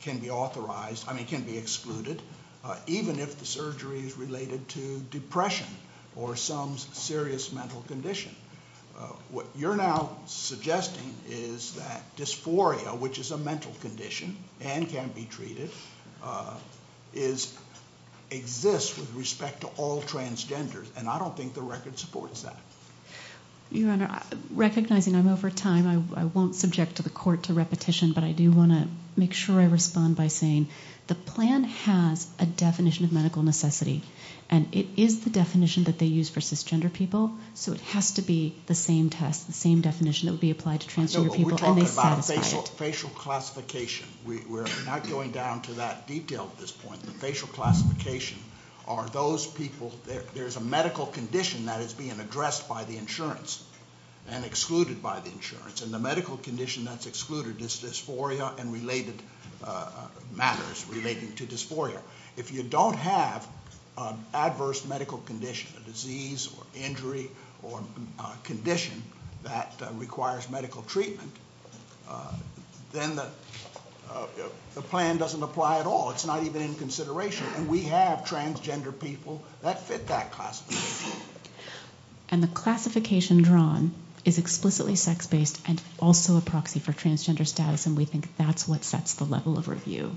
can be excluded, even if the surgery is related to depression or some serious mental condition, what you're now suggesting is that dysphoria, which is a mental condition and can be treated, exists with respect to all transgenders. And I don't think the record supports that. Your Honor, recognizing I'm over time, I won't subject the court to repetition, but I do want to make sure I respond by saying the plan has a definition of medical necessity, and it is the definition that they use for cisgender people, so it has to be the same test, the same definition that would be applied to transgender people. We're talking about facial classification. We're not going down to that detail at this point, but facial classification are those people, if there's a medical condition that is being addressed by the insurance and excluded by the insurance, and the medical condition that's excluded is dysphoria and related matters related to dysphoria. If you don't have an adverse medical condition, a disease or injury or condition that requires medical treatment, then the plan doesn't apply at all. It's not even in consideration, and we have transgender people that fit that classification. And the classification drawn is explicitly sex-based and also a proxy for transgender status, and we think that's what sets the level of review.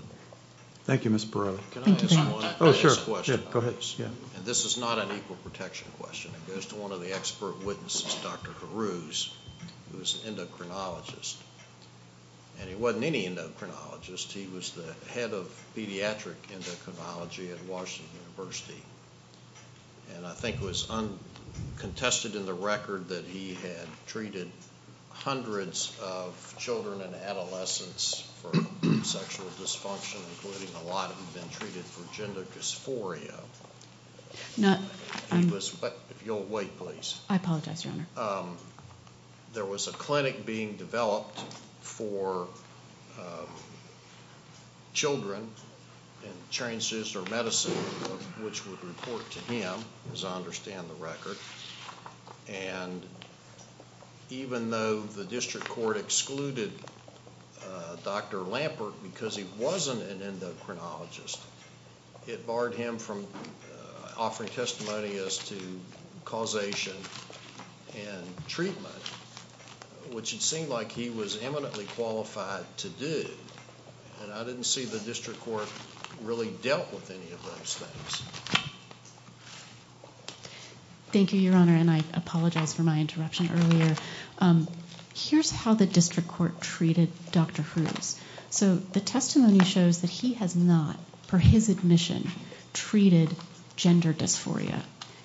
Thank you, Ms. Barreiro. Oh, sure, go ahead. This is not an equal protection question. It goes to one of the expert witnesses, Dr. Haroos, who is an endocrinologist, and he wasn't any endocrinologist. He was the head of pediatric endocrinology at Washington University, and I think it was uncontested in the record that he had treated hundreds of children and adolescents for sexual dysfunction, including a lot of them treated for gender dysphoria. No, I'm... If you'll wait, please. I apologize, Your Honor. There was a clinic being developed for children in transducer medicine, which would report to him, as I understand the record, and even though the district court excluded Dr. Lampert because he wasn't an endocrinologist, it barred him from offering testimony as to causation and treatment, which it seemed like he was eminently qualified to do, and I didn't see the district court really dealt with any of those things. Thank you, Your Honor, and I apologize for my interruption earlier. Here's how the district court treated Dr. Haroos. So the testimony shows that he has not, for his admission, treated gender dysphoria.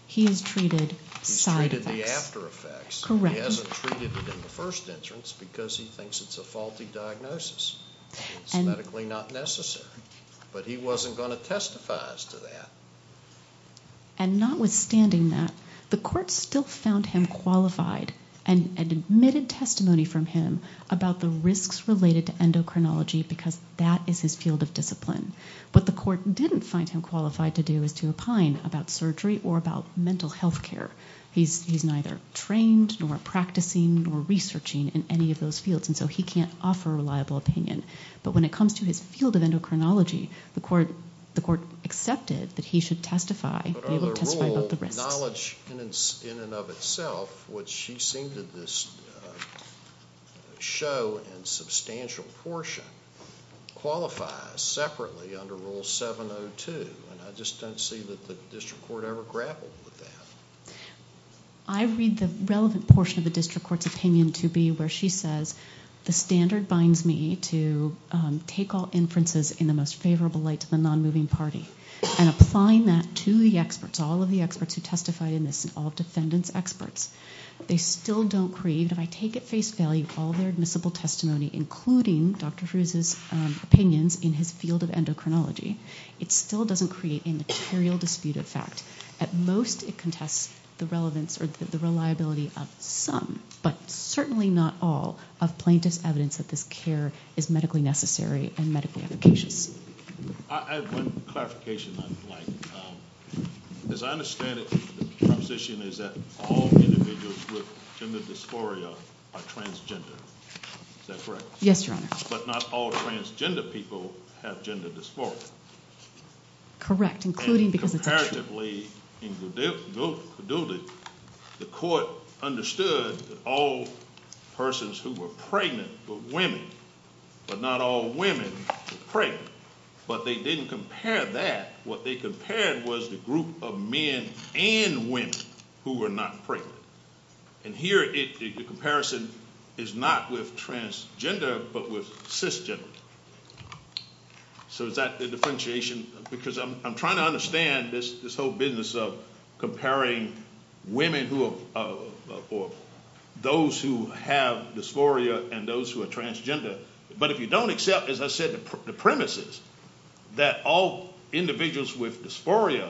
He has treated side effects. He's treated the after effects. Correct. He hasn't treated it in the first instance because he thinks it's a faulty diagnosis. It's medically not necessary. But he wasn't going to testify as to that. And notwithstanding that, the court still found him qualified and admitted testimony from him about the risks related to endocrinology because that is his field of discipline, but the court didn't find him qualified to do as to opine about surgery or about mental health care. He's neither trained nor practicing nor researching in any of those fields, and so he can't offer a reliable opinion, but when it comes to his field of endocrinology, the court accepted that he should testify. But under the rule, knowledge in and of itself, which she seemed to show in substantial portion, qualifies separately under Rule 702, and I just don't see that the district court ever grappled with that. I read the relevant portion of the district court's opinion to be where she says, the standard binds me to take all inferences in the most favorable light to the non-moving party, and applying that to the experts, all of the experts who testified in this, and all of the descendants' experts, they still don't create, and I take at face value all their admissible testimony, including Dr. Fruese's opinions in his field of endocrinology, it still doesn't create a material dispute effect. At most, it contests the relevance or the reliability of some, but certainly not all, of plaintiff's evidence that this care is medically necessary and medically efficacious. I have one clarification I would like. As I understand it, the position is that all individuals with gender dysphoria are transgender. Is that correct? Yes, Your Honor. But not all transgender people have gender dysphoria. Correct. And comparatively, the court understood that all persons who were pregnant were women, but not all women were pregnant. But they didn't compare that. What they compared was the group of men and women who were not pregnant. And here, the comparison is not with transgender, but with cisgender. So is that the differentiation? Because I'm trying to understand this whole business of comparing women or those who have dysphoria and those who are transgender. But if you don't accept, as I said, the premises that all individuals with dysphoria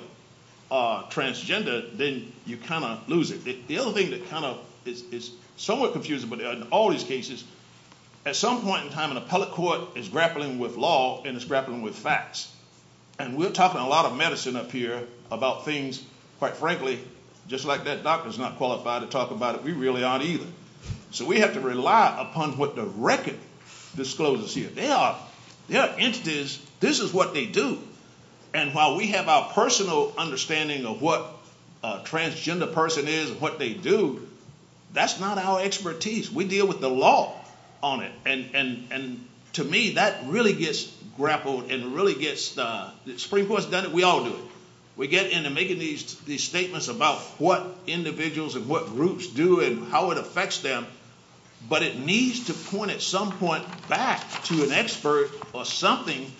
are transgender, then you kind of lose it. The other thing that kind of is somewhat confusing, but in all these cases, at some point in time, an appellate court is grappling with law and it's grappling with facts. And we're talking a lot of medicine up here about things, quite frankly, just like that doctor's not qualified to talk about it, we really aren't either. So we have to rely upon what the record discloses here. There are entities, this is what they do. And while we have our personal understanding of what a transgender person is and what they do, that's not our expertise. We deal with the law on it. And to me, that really gets grappled and really gets... The Supreme Court's done it, we all do. We get into making these statements about what individuals and what groups do and how it affects them, but it needs to point at some point back to an expert or something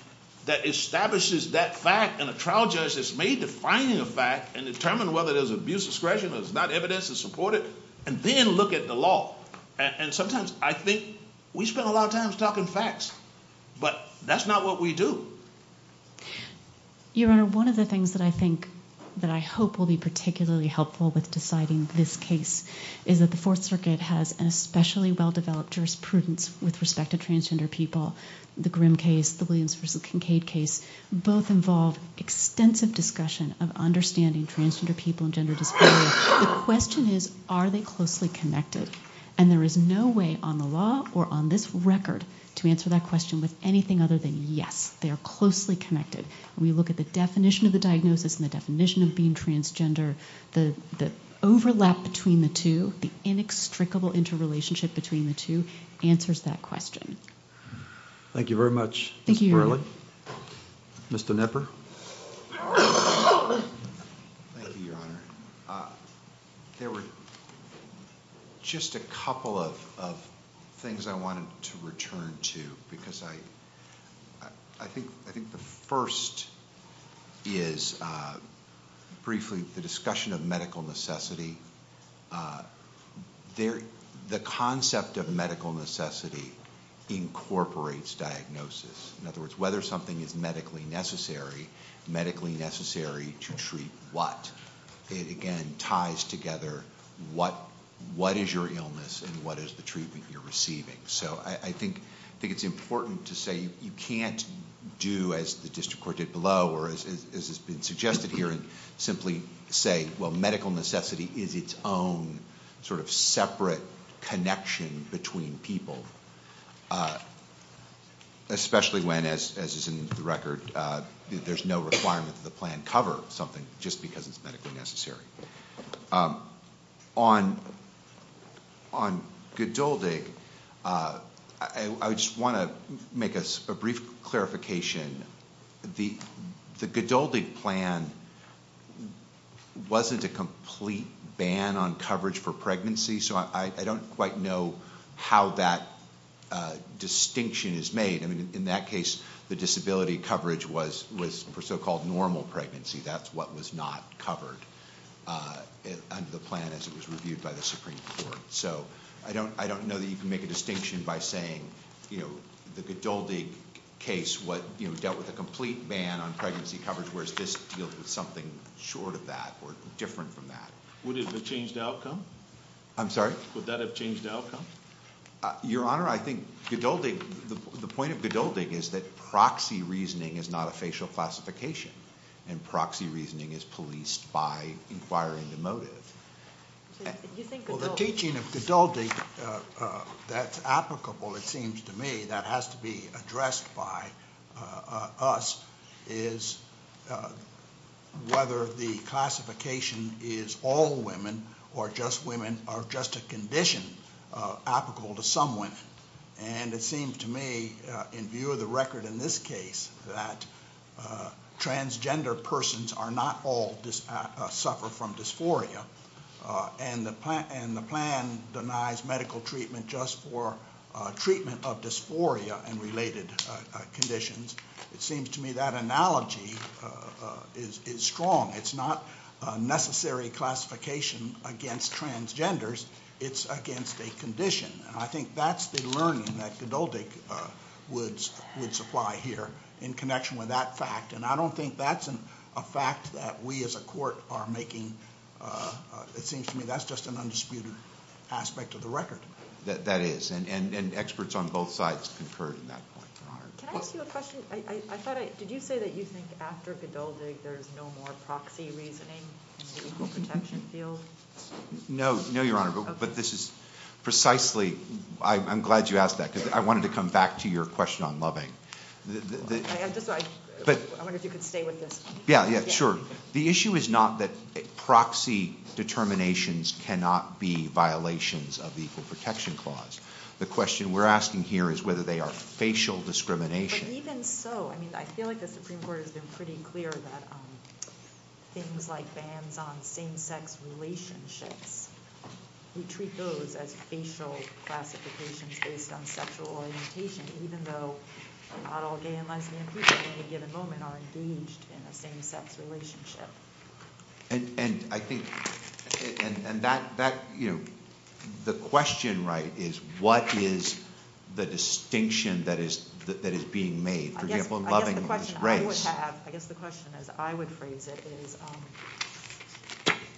that establishes that fact and a trial judge that's made to finding a fact and determine whether there's abuse of discretion or there's not evidence to support it, and then look at the law. And sometimes I think... We spend a lot of time talking facts, but that's not what we do. Your Honor, one of the things that I think, that I hope will be particularly helpful with deciding this case is that the Fourth Circuit has an especially well-developed jurisprudence with respect to transgender people. The Grimm case, the Williams v. Kincaid case, both involve extensive discussion of understanding transgender people and gender disparities. The question is, are they closely connected? And there is no way on the law or on this record to answer that question with anything other than yes. They are closely connected. When we look at the definition of the diagnosis and the definition of being transgender, the overlap between the two, the inextricable interrelationship between the two, answers that question. Thank you very much, Mr. Merlin. Thank you, Your Honor. Mr. Knepper. Thank you, Your Honor. There were just a couple of things I wanted to return to because I think the first is, briefly, the discussion of medical necessity. The concept of medical necessity incorporates diagnosis. In other words, whether something is medically necessary, medically necessary to treat what? It, again, ties together what is your illness and what is the treatment you're receiving. So I think it's important to say you can't do as the district court did below or as has been suggested here and simply say, well, medical necessity is its own sort of separate connection between people, especially when, as is in the record, there's no requirement that the plan cover something just because it's medically necessary. On Goduldig, I just want to make a brief clarification. The Goduldig plan wasn't a complete ban on coverage for pregnancy, so I don't quite know how that distinction is made. I mean, in that case, the disability coverage was for so-called normal pregnancy. That's what was not covered under the plan as it was reviewed by the Supreme Court. So I don't know that you can make a distinction by saying the Goduldig case dealt with a complete ban on pregnancy coverage, whereas this deals with something short of that or different from that. Would it have changed the outcome? I'm sorry? Would that have changed the outcome? Your Honor, I think the point of Goduldig is that proxy reasoning is not a facial classification, and proxy reasoning is policed by inquiring the motive. Well, the teaching of Goduldig that's applicable, it seems to me, that has to be addressed by us is whether the classification is all women or just women or just a condition applicable to someone. And it seems to me, in view of the record in this case, that transgender persons are not all suffer from dysphoria, and the plan denies medical treatment just for treatment of dysphoria and related conditions. It seems to me that analogy is strong. It's not a necessary classification against transgenders. It's against a condition. And I think that's the learning that Goduldig would supply here in connection with that fact. And I don't think that's a fact that we as a court are making. It seems to me that's just an undisputed aspect of the record. That is. And experts on both sides concurred on that point. Can I ask you a question? Did you say that you think after Goduldig there's no more proxy reasoning in the legal protection field? No, Your Honor. But this is precisely... I'm glad you asked that, because I wanted to come back to your question on loving. I wonder if you could stay with this. Yeah, sure. The issue is not that proxy determinations cannot be violations of the Equal Protection Clause. The question we're asking here is whether they are facial discrimination. Even so, I feel like the Supreme Court has been pretty clear that things like bans on same-sex relationships, we treat those as facial classifications based on sexual orientation, even though not all gay and lesbian people in any given moment are engaged in a same-sex relationship. And I think that, you know, the question, right, is what is the distinction that is being made, for example, in loving and disgrace? I guess the question is, I would phrase it as,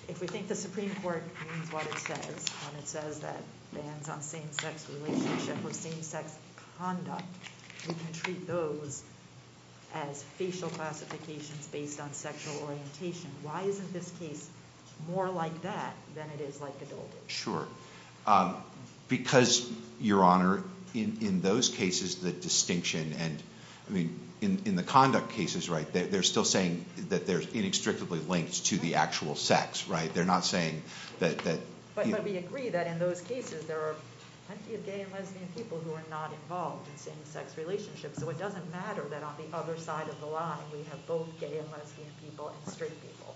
if we think the Supreme Court means what it says when it says that bans on same-sex relationships or same-sex conduct, we can treat those as facial classifications based on sexual orientation. Why isn't this case more like that than it is like it always was? Sure. Because, Your Honor, in those cases, the distinction and... I mean, in the conduct cases, right, they're still saying that they're inextricably linked to the actual sex, right? They're not saying that... But we agree that in those cases, there are plenty of gay and lesbian people who are not involved in same-sex relationships, so it doesn't matter that on the other side of the line we have both gay and lesbian people and straight people.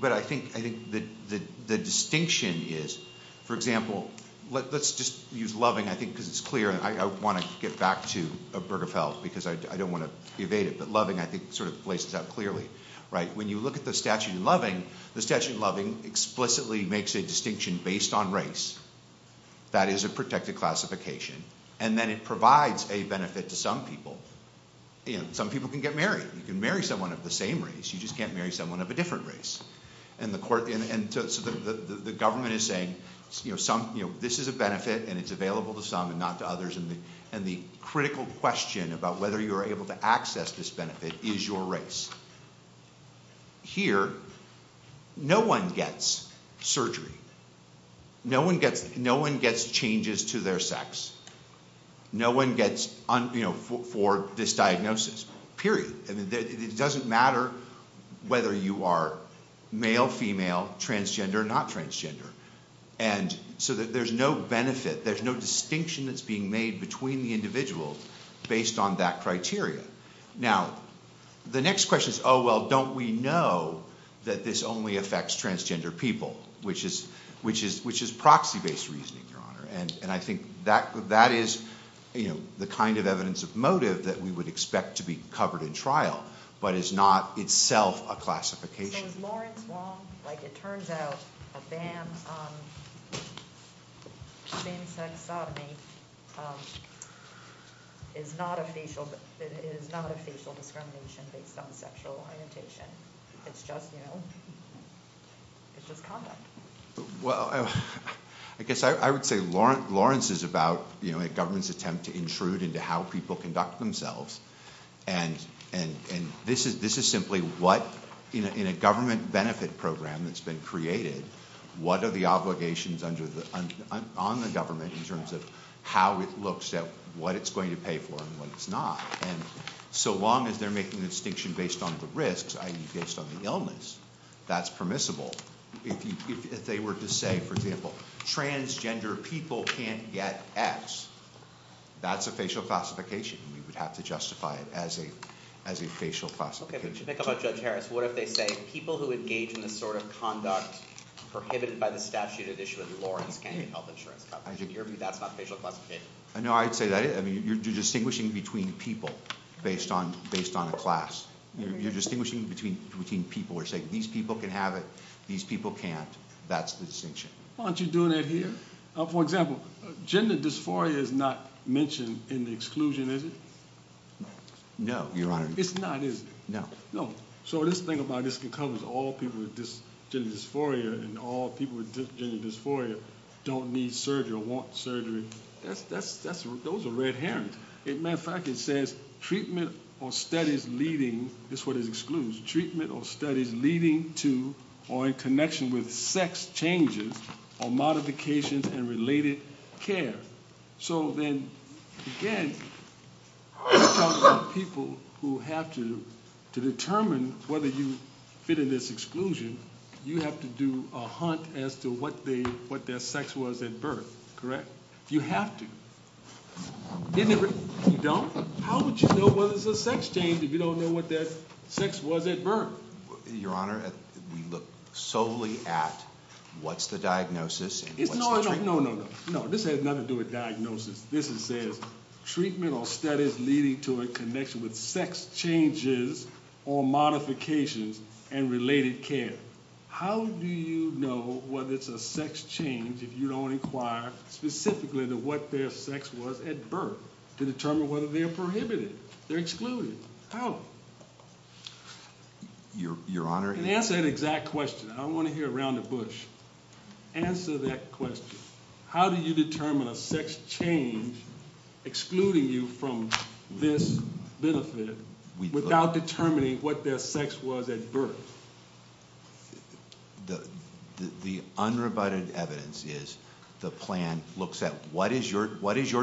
But I think the distinction is, for example, let's just use loving, I think, because it's clear, and I want to get back to Burger Feld because I don't want to evade it, but loving, I think, sort of lays it out clearly, right? When you look at the statute of loving, the statute of loving explicitly makes a distinction based on race. That is a protected classification. And then it provides a benefit to some people. Some people can get married. You can marry someone of the same race. You just can't marry someone of a different race. And so the government is saying, this is a benefit and it's available to some and not to others, and the critical question about whether you are able to access this benefit is your race. Here, no one gets surgery. No one gets changes to their sex. No one gets, you know, for this diagnosis. Period. It doesn't matter whether you are male, female, transgender, not transgender. And so there's no benefit, there's no distinction that's being made between the individuals based on that criteria. Now, the next question is, oh, well, don't we know that this only affects transgender people, which is proxy-based reasoning, Your Honor. And I think that is, you know, the kind of evidence of motive that we would expect to be covered in trial, but is not itself a classification. You know, Lawrence Wong, like it turns out, a damn same-sex sodomy is not a facial determination based on sexual orientation. It's just, you know, it's just common. Well, I guess I would say Lawrence is about, you know, a government's attempt to intrude into how people conduct themselves, and this is simply what, in a government benefit program that's been created, what are the obligations on the government in terms of how it looks at what it's going to pay for and what it's not. And so long as they're making a distinction based on the risks, i.e. based on the illness, that's permissible. If they were to say, for example, transgender people can't get X, that's a facial classification. You would have to justify it as a facial classification. Okay, what do you think about Judge Harris? What if they say people who engage in this sort of conduct prohibited by the statute of the issue of the law can't get health insurance coverage? In your view, that's not facial classification? No, I'd say that. I mean, you're distinguishing between people based on a class. You're distinguishing between people who are saying, these people can have it, these people can't. That's the distinction. Why don't you do that here? For example, gender dysphoria is not mentioned in the exclusion, is it? No, Your Honor. It's not, is it? No. No. So this thing about this covers all people with gender dysphoria and all people with gender dysphoria don't need surgery or want surgery. Those are red herrings. Matter of fact, it says treatment or studies leading, that's what it excludes, treatment or studies leading to or in connection with sex changes or modifications and related care. So then, again, those are people who have to determine whether you've hidden this exclusion. You have to do a hunt as to what their sex was at birth, correct? You have to. If you don't, how would you know whether it's a sex change if you don't know what their sex was at birth? Your Honor, we look solely at what's the diagnosis. No, no, no. No, this has nothing to do with diagnosis. This is treatment or studies leading to or in connection with sex changes or modifications and related care. How do you know whether it's a sex change if you don't inquire specifically into what their sex was at birth to determine whether they're prohibited, they're excluded? How? Your Honor? Answer that exact question. I want to hear around the bush. Answer that question. How do you determine a sex change excluding you from this benefit without determining what their sex was at birth? The unrebutted evidence is the plan looks at what is your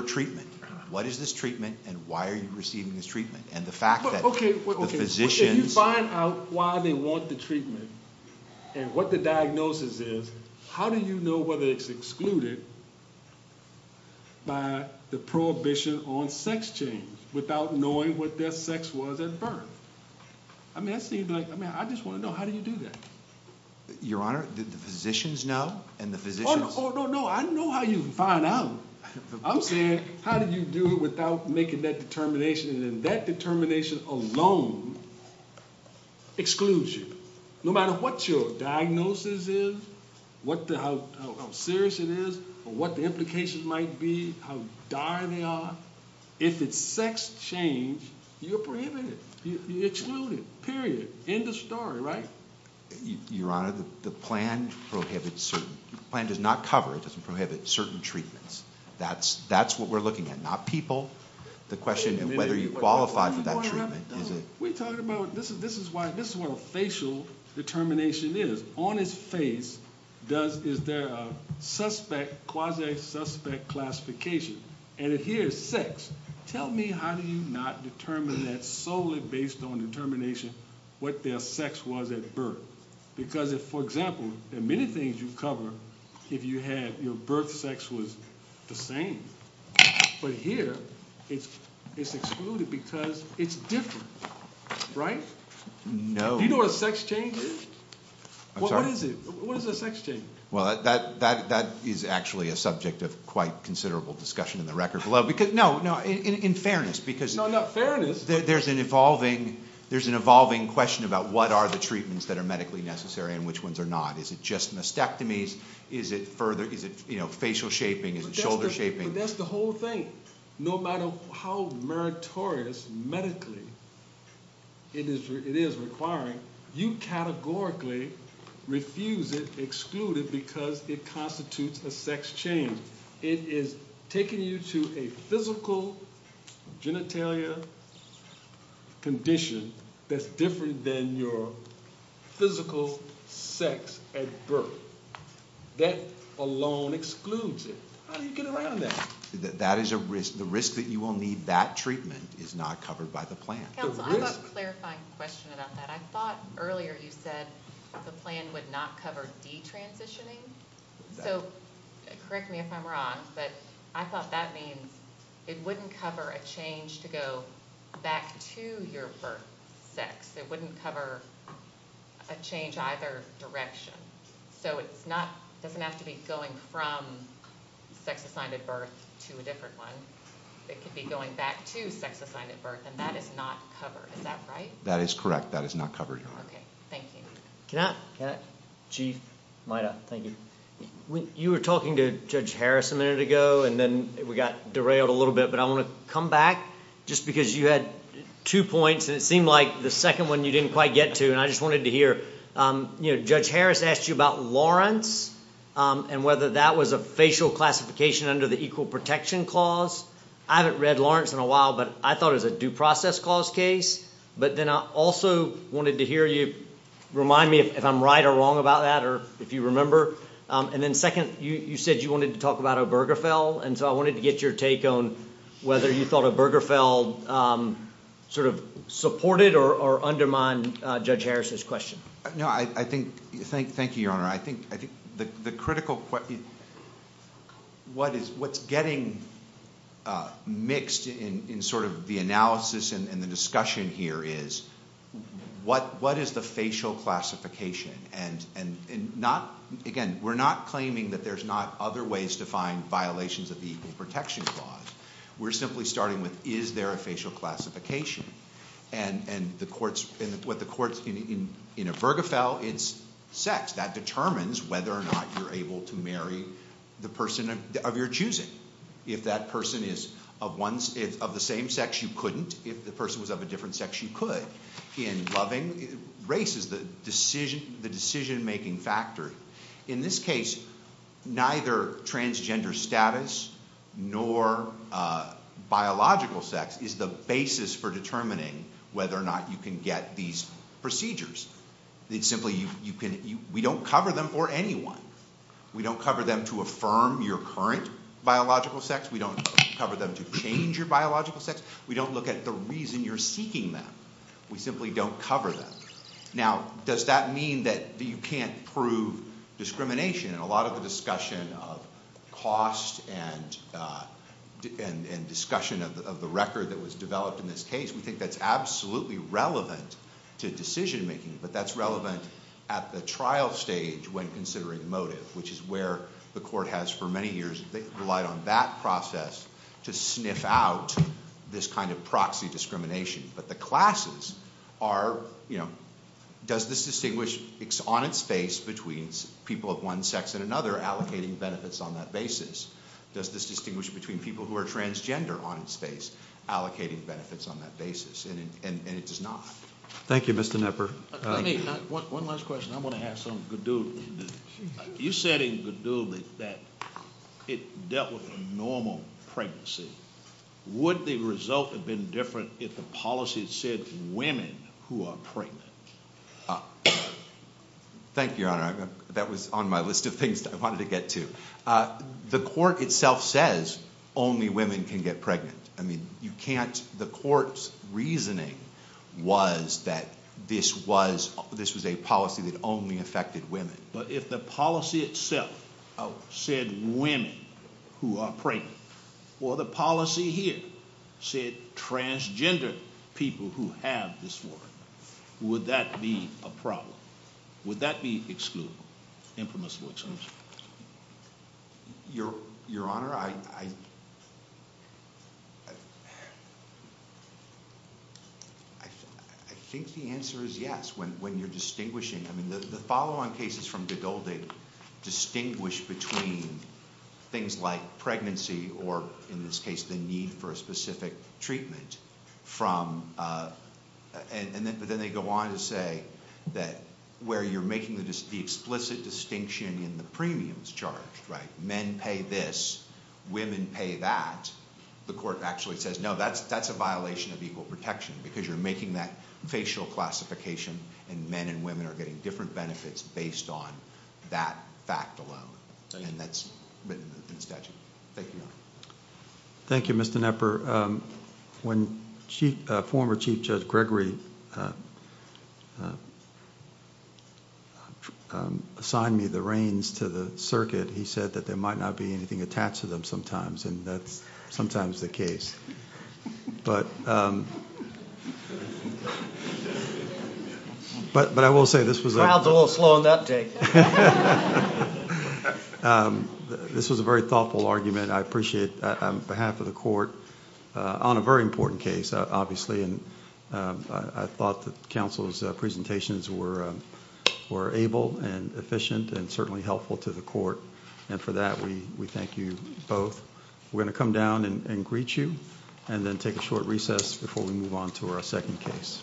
treatment? What is this treatment and why are you receiving this treatment? If you find out why they want the treatment and what the diagnosis is, how do you know whether it's excluded by the prohibition on sex change without knowing what their sex was at birth? I just want to know, how do you do that? Your Honor, do the physicians know? Oh, no, no. I know how you find out. I'm saying how did you do it without making that determination and that determination alone excludes you. No matter what your diagnosis is, how serious it is, or what the implications might be, how dire they are, if it's sex change, you're prohibited. You're excluded, period. End of story, right? Your Honor, the plan prohibits certain. The plan does not cover, it doesn't prohibit certain treatments. That's what we're looking at, not people. The question is whether you qualify for that treatment. We're talking about, this is what a facial determination is. On his face, is there a suspect, quasi-suspect classification? And if here is sex, tell me how do you not determine that solely based on determination what their sex was at birth? Because, for example, in many things you cover, if you have your birth sex was the same. But here, it's excluded because it's different, right? No. Do you know what a sex change is? I'm sorry? What is a sex change? Well, that is actually a subject of quite considerable discussion in the record below. No, in fairness, because there's an evolving question about what are the treatments that are medically necessary and which ones are not. Is it just mastectomies? Is it facial shaping? Is it shoulder shaping? That's the whole thing. No matter how meritorious medically it is requiring, you categorically refuse it, exclude it, because it constitutes a sex change. It is taking you to a physical genitalia condition that's different than your physical sex at birth. That alone excludes it. How do you get around that? The risk that you will need that treatment is not covered by the plan. I have a clarifying question about that. I thought earlier you said the plan would not cover detransitioning. Correct me if I'm wrong, but I thought that means it wouldn't cover a change to go back to your birth sex. It wouldn't cover a change in either direction. It doesn't have to be going from sex assigned at birth to a different one. It could be going back to sex assigned at birth, and that is not covered. Is that right? That is correct. That is not covered. Okay. Thank you. Chief? Thank you. You were talking to Judge Harris a minute ago, and then we got derailed a little bit, but I want to come back, just because you had two points, and it seemed like the second one you didn't quite get to, and I just wanted to hear, you know, Judge Harris asked you about Lawrence and whether that was a facial classification under the Equal Protection Clause. I haven't read Lawrence in a while, but I thought it was a Due Process Clause case, but then I also wanted to hear you remind me if I'm right or wrong about that, or if you remember. And then second, you said you wanted to talk about Obergefell, and so I wanted to get your take on whether you thought Obergefell sort of supported or undermined Judge Harris's question. No, I think... thank you, Your Honor. I think the critical... what's getting mixed in sort of the analysis and the discussion here is, what is the facial classification? And not... again, we're not claiming that there's not other ways to find violations of the Equal Protection Clause. We're simply starting with, is there a facial classification? And the courts... in Obergefell, it's sex. That determines whether or not you're able to marry the person of your choosing. If that person is of the same sex, you couldn't. If the person was of a different sex, you could. In loving, race is the decision-making factor. In this case, neither transgender status nor biological sex is the basis for determining whether or not you can get these procedures. It's simply, you can... we don't cover them for anyone. We don't cover them to affirm your current biological sex. We don't cover them to change your biological sex. We don't look at the reason you're seeking them. We simply don't cover them. Now, does that mean that you can't prove discrimination? In a lot of the discussion of cost and discussion of the record that was developed in this case, we think that's absolutely relevant to decision-making, but that's relevant at the trial stage when considering the motive, which is where the court has, for many years, relied on that process to sniff out this kind of proxy discrimination. But the classes are... does this distinguish on its face between people of one sex and another allocating benefits on that basis? Does this distinguish between people who are transgender on its face allocating benefits on that basis? And it does not. Thank you, Mr. Knepper. One last question. I'm going to have some gadoodling. You said in gadoodling that it's definitely a normal pregnancy. Would the result have been different if the policy said women who are pregnant? Thank you, Your Honor. That was on my list of things that I wanted to get to. The court itself says only women can get pregnant. I mean, you can't... the court's reasoning was that this was a policy that only affected women. But if the policy itself said women who are pregnant, or the policy here said transgender people who have this form, would that be a problem? Would that be exclusive? Your Honor, I... I think the answer is yes, when you're distinguishing. I mean, the follow-on cases from gadoodling distinguish between things like pregnancy or, in this case, the need for a specific treatment from... And then they go on to say that where you're making the explicit distinction in the premiums charge, men pay this, women pay that, the court actually says, no, that's a violation of equal protection because you're making that facial classification, and men and women are getting different benefits based on that fact alone. And that's... Thank you, Your Honor. Thank you, Mr. Knepper. When former Chief Judge Gregory assigned me the reins to the circuit, he said that there might not be anything attached to them sometimes, and that's sometimes the case. But... But I will say this was a... This was a very thoughtful argument. I appreciate it on behalf of the court on a very important case, obviously, and I thought that counsel's presentations were able and efficient and certainly helpful to the court. And for that, we thank you both. We're going to come down and greet you, and then take a short recess before we move on to our second case.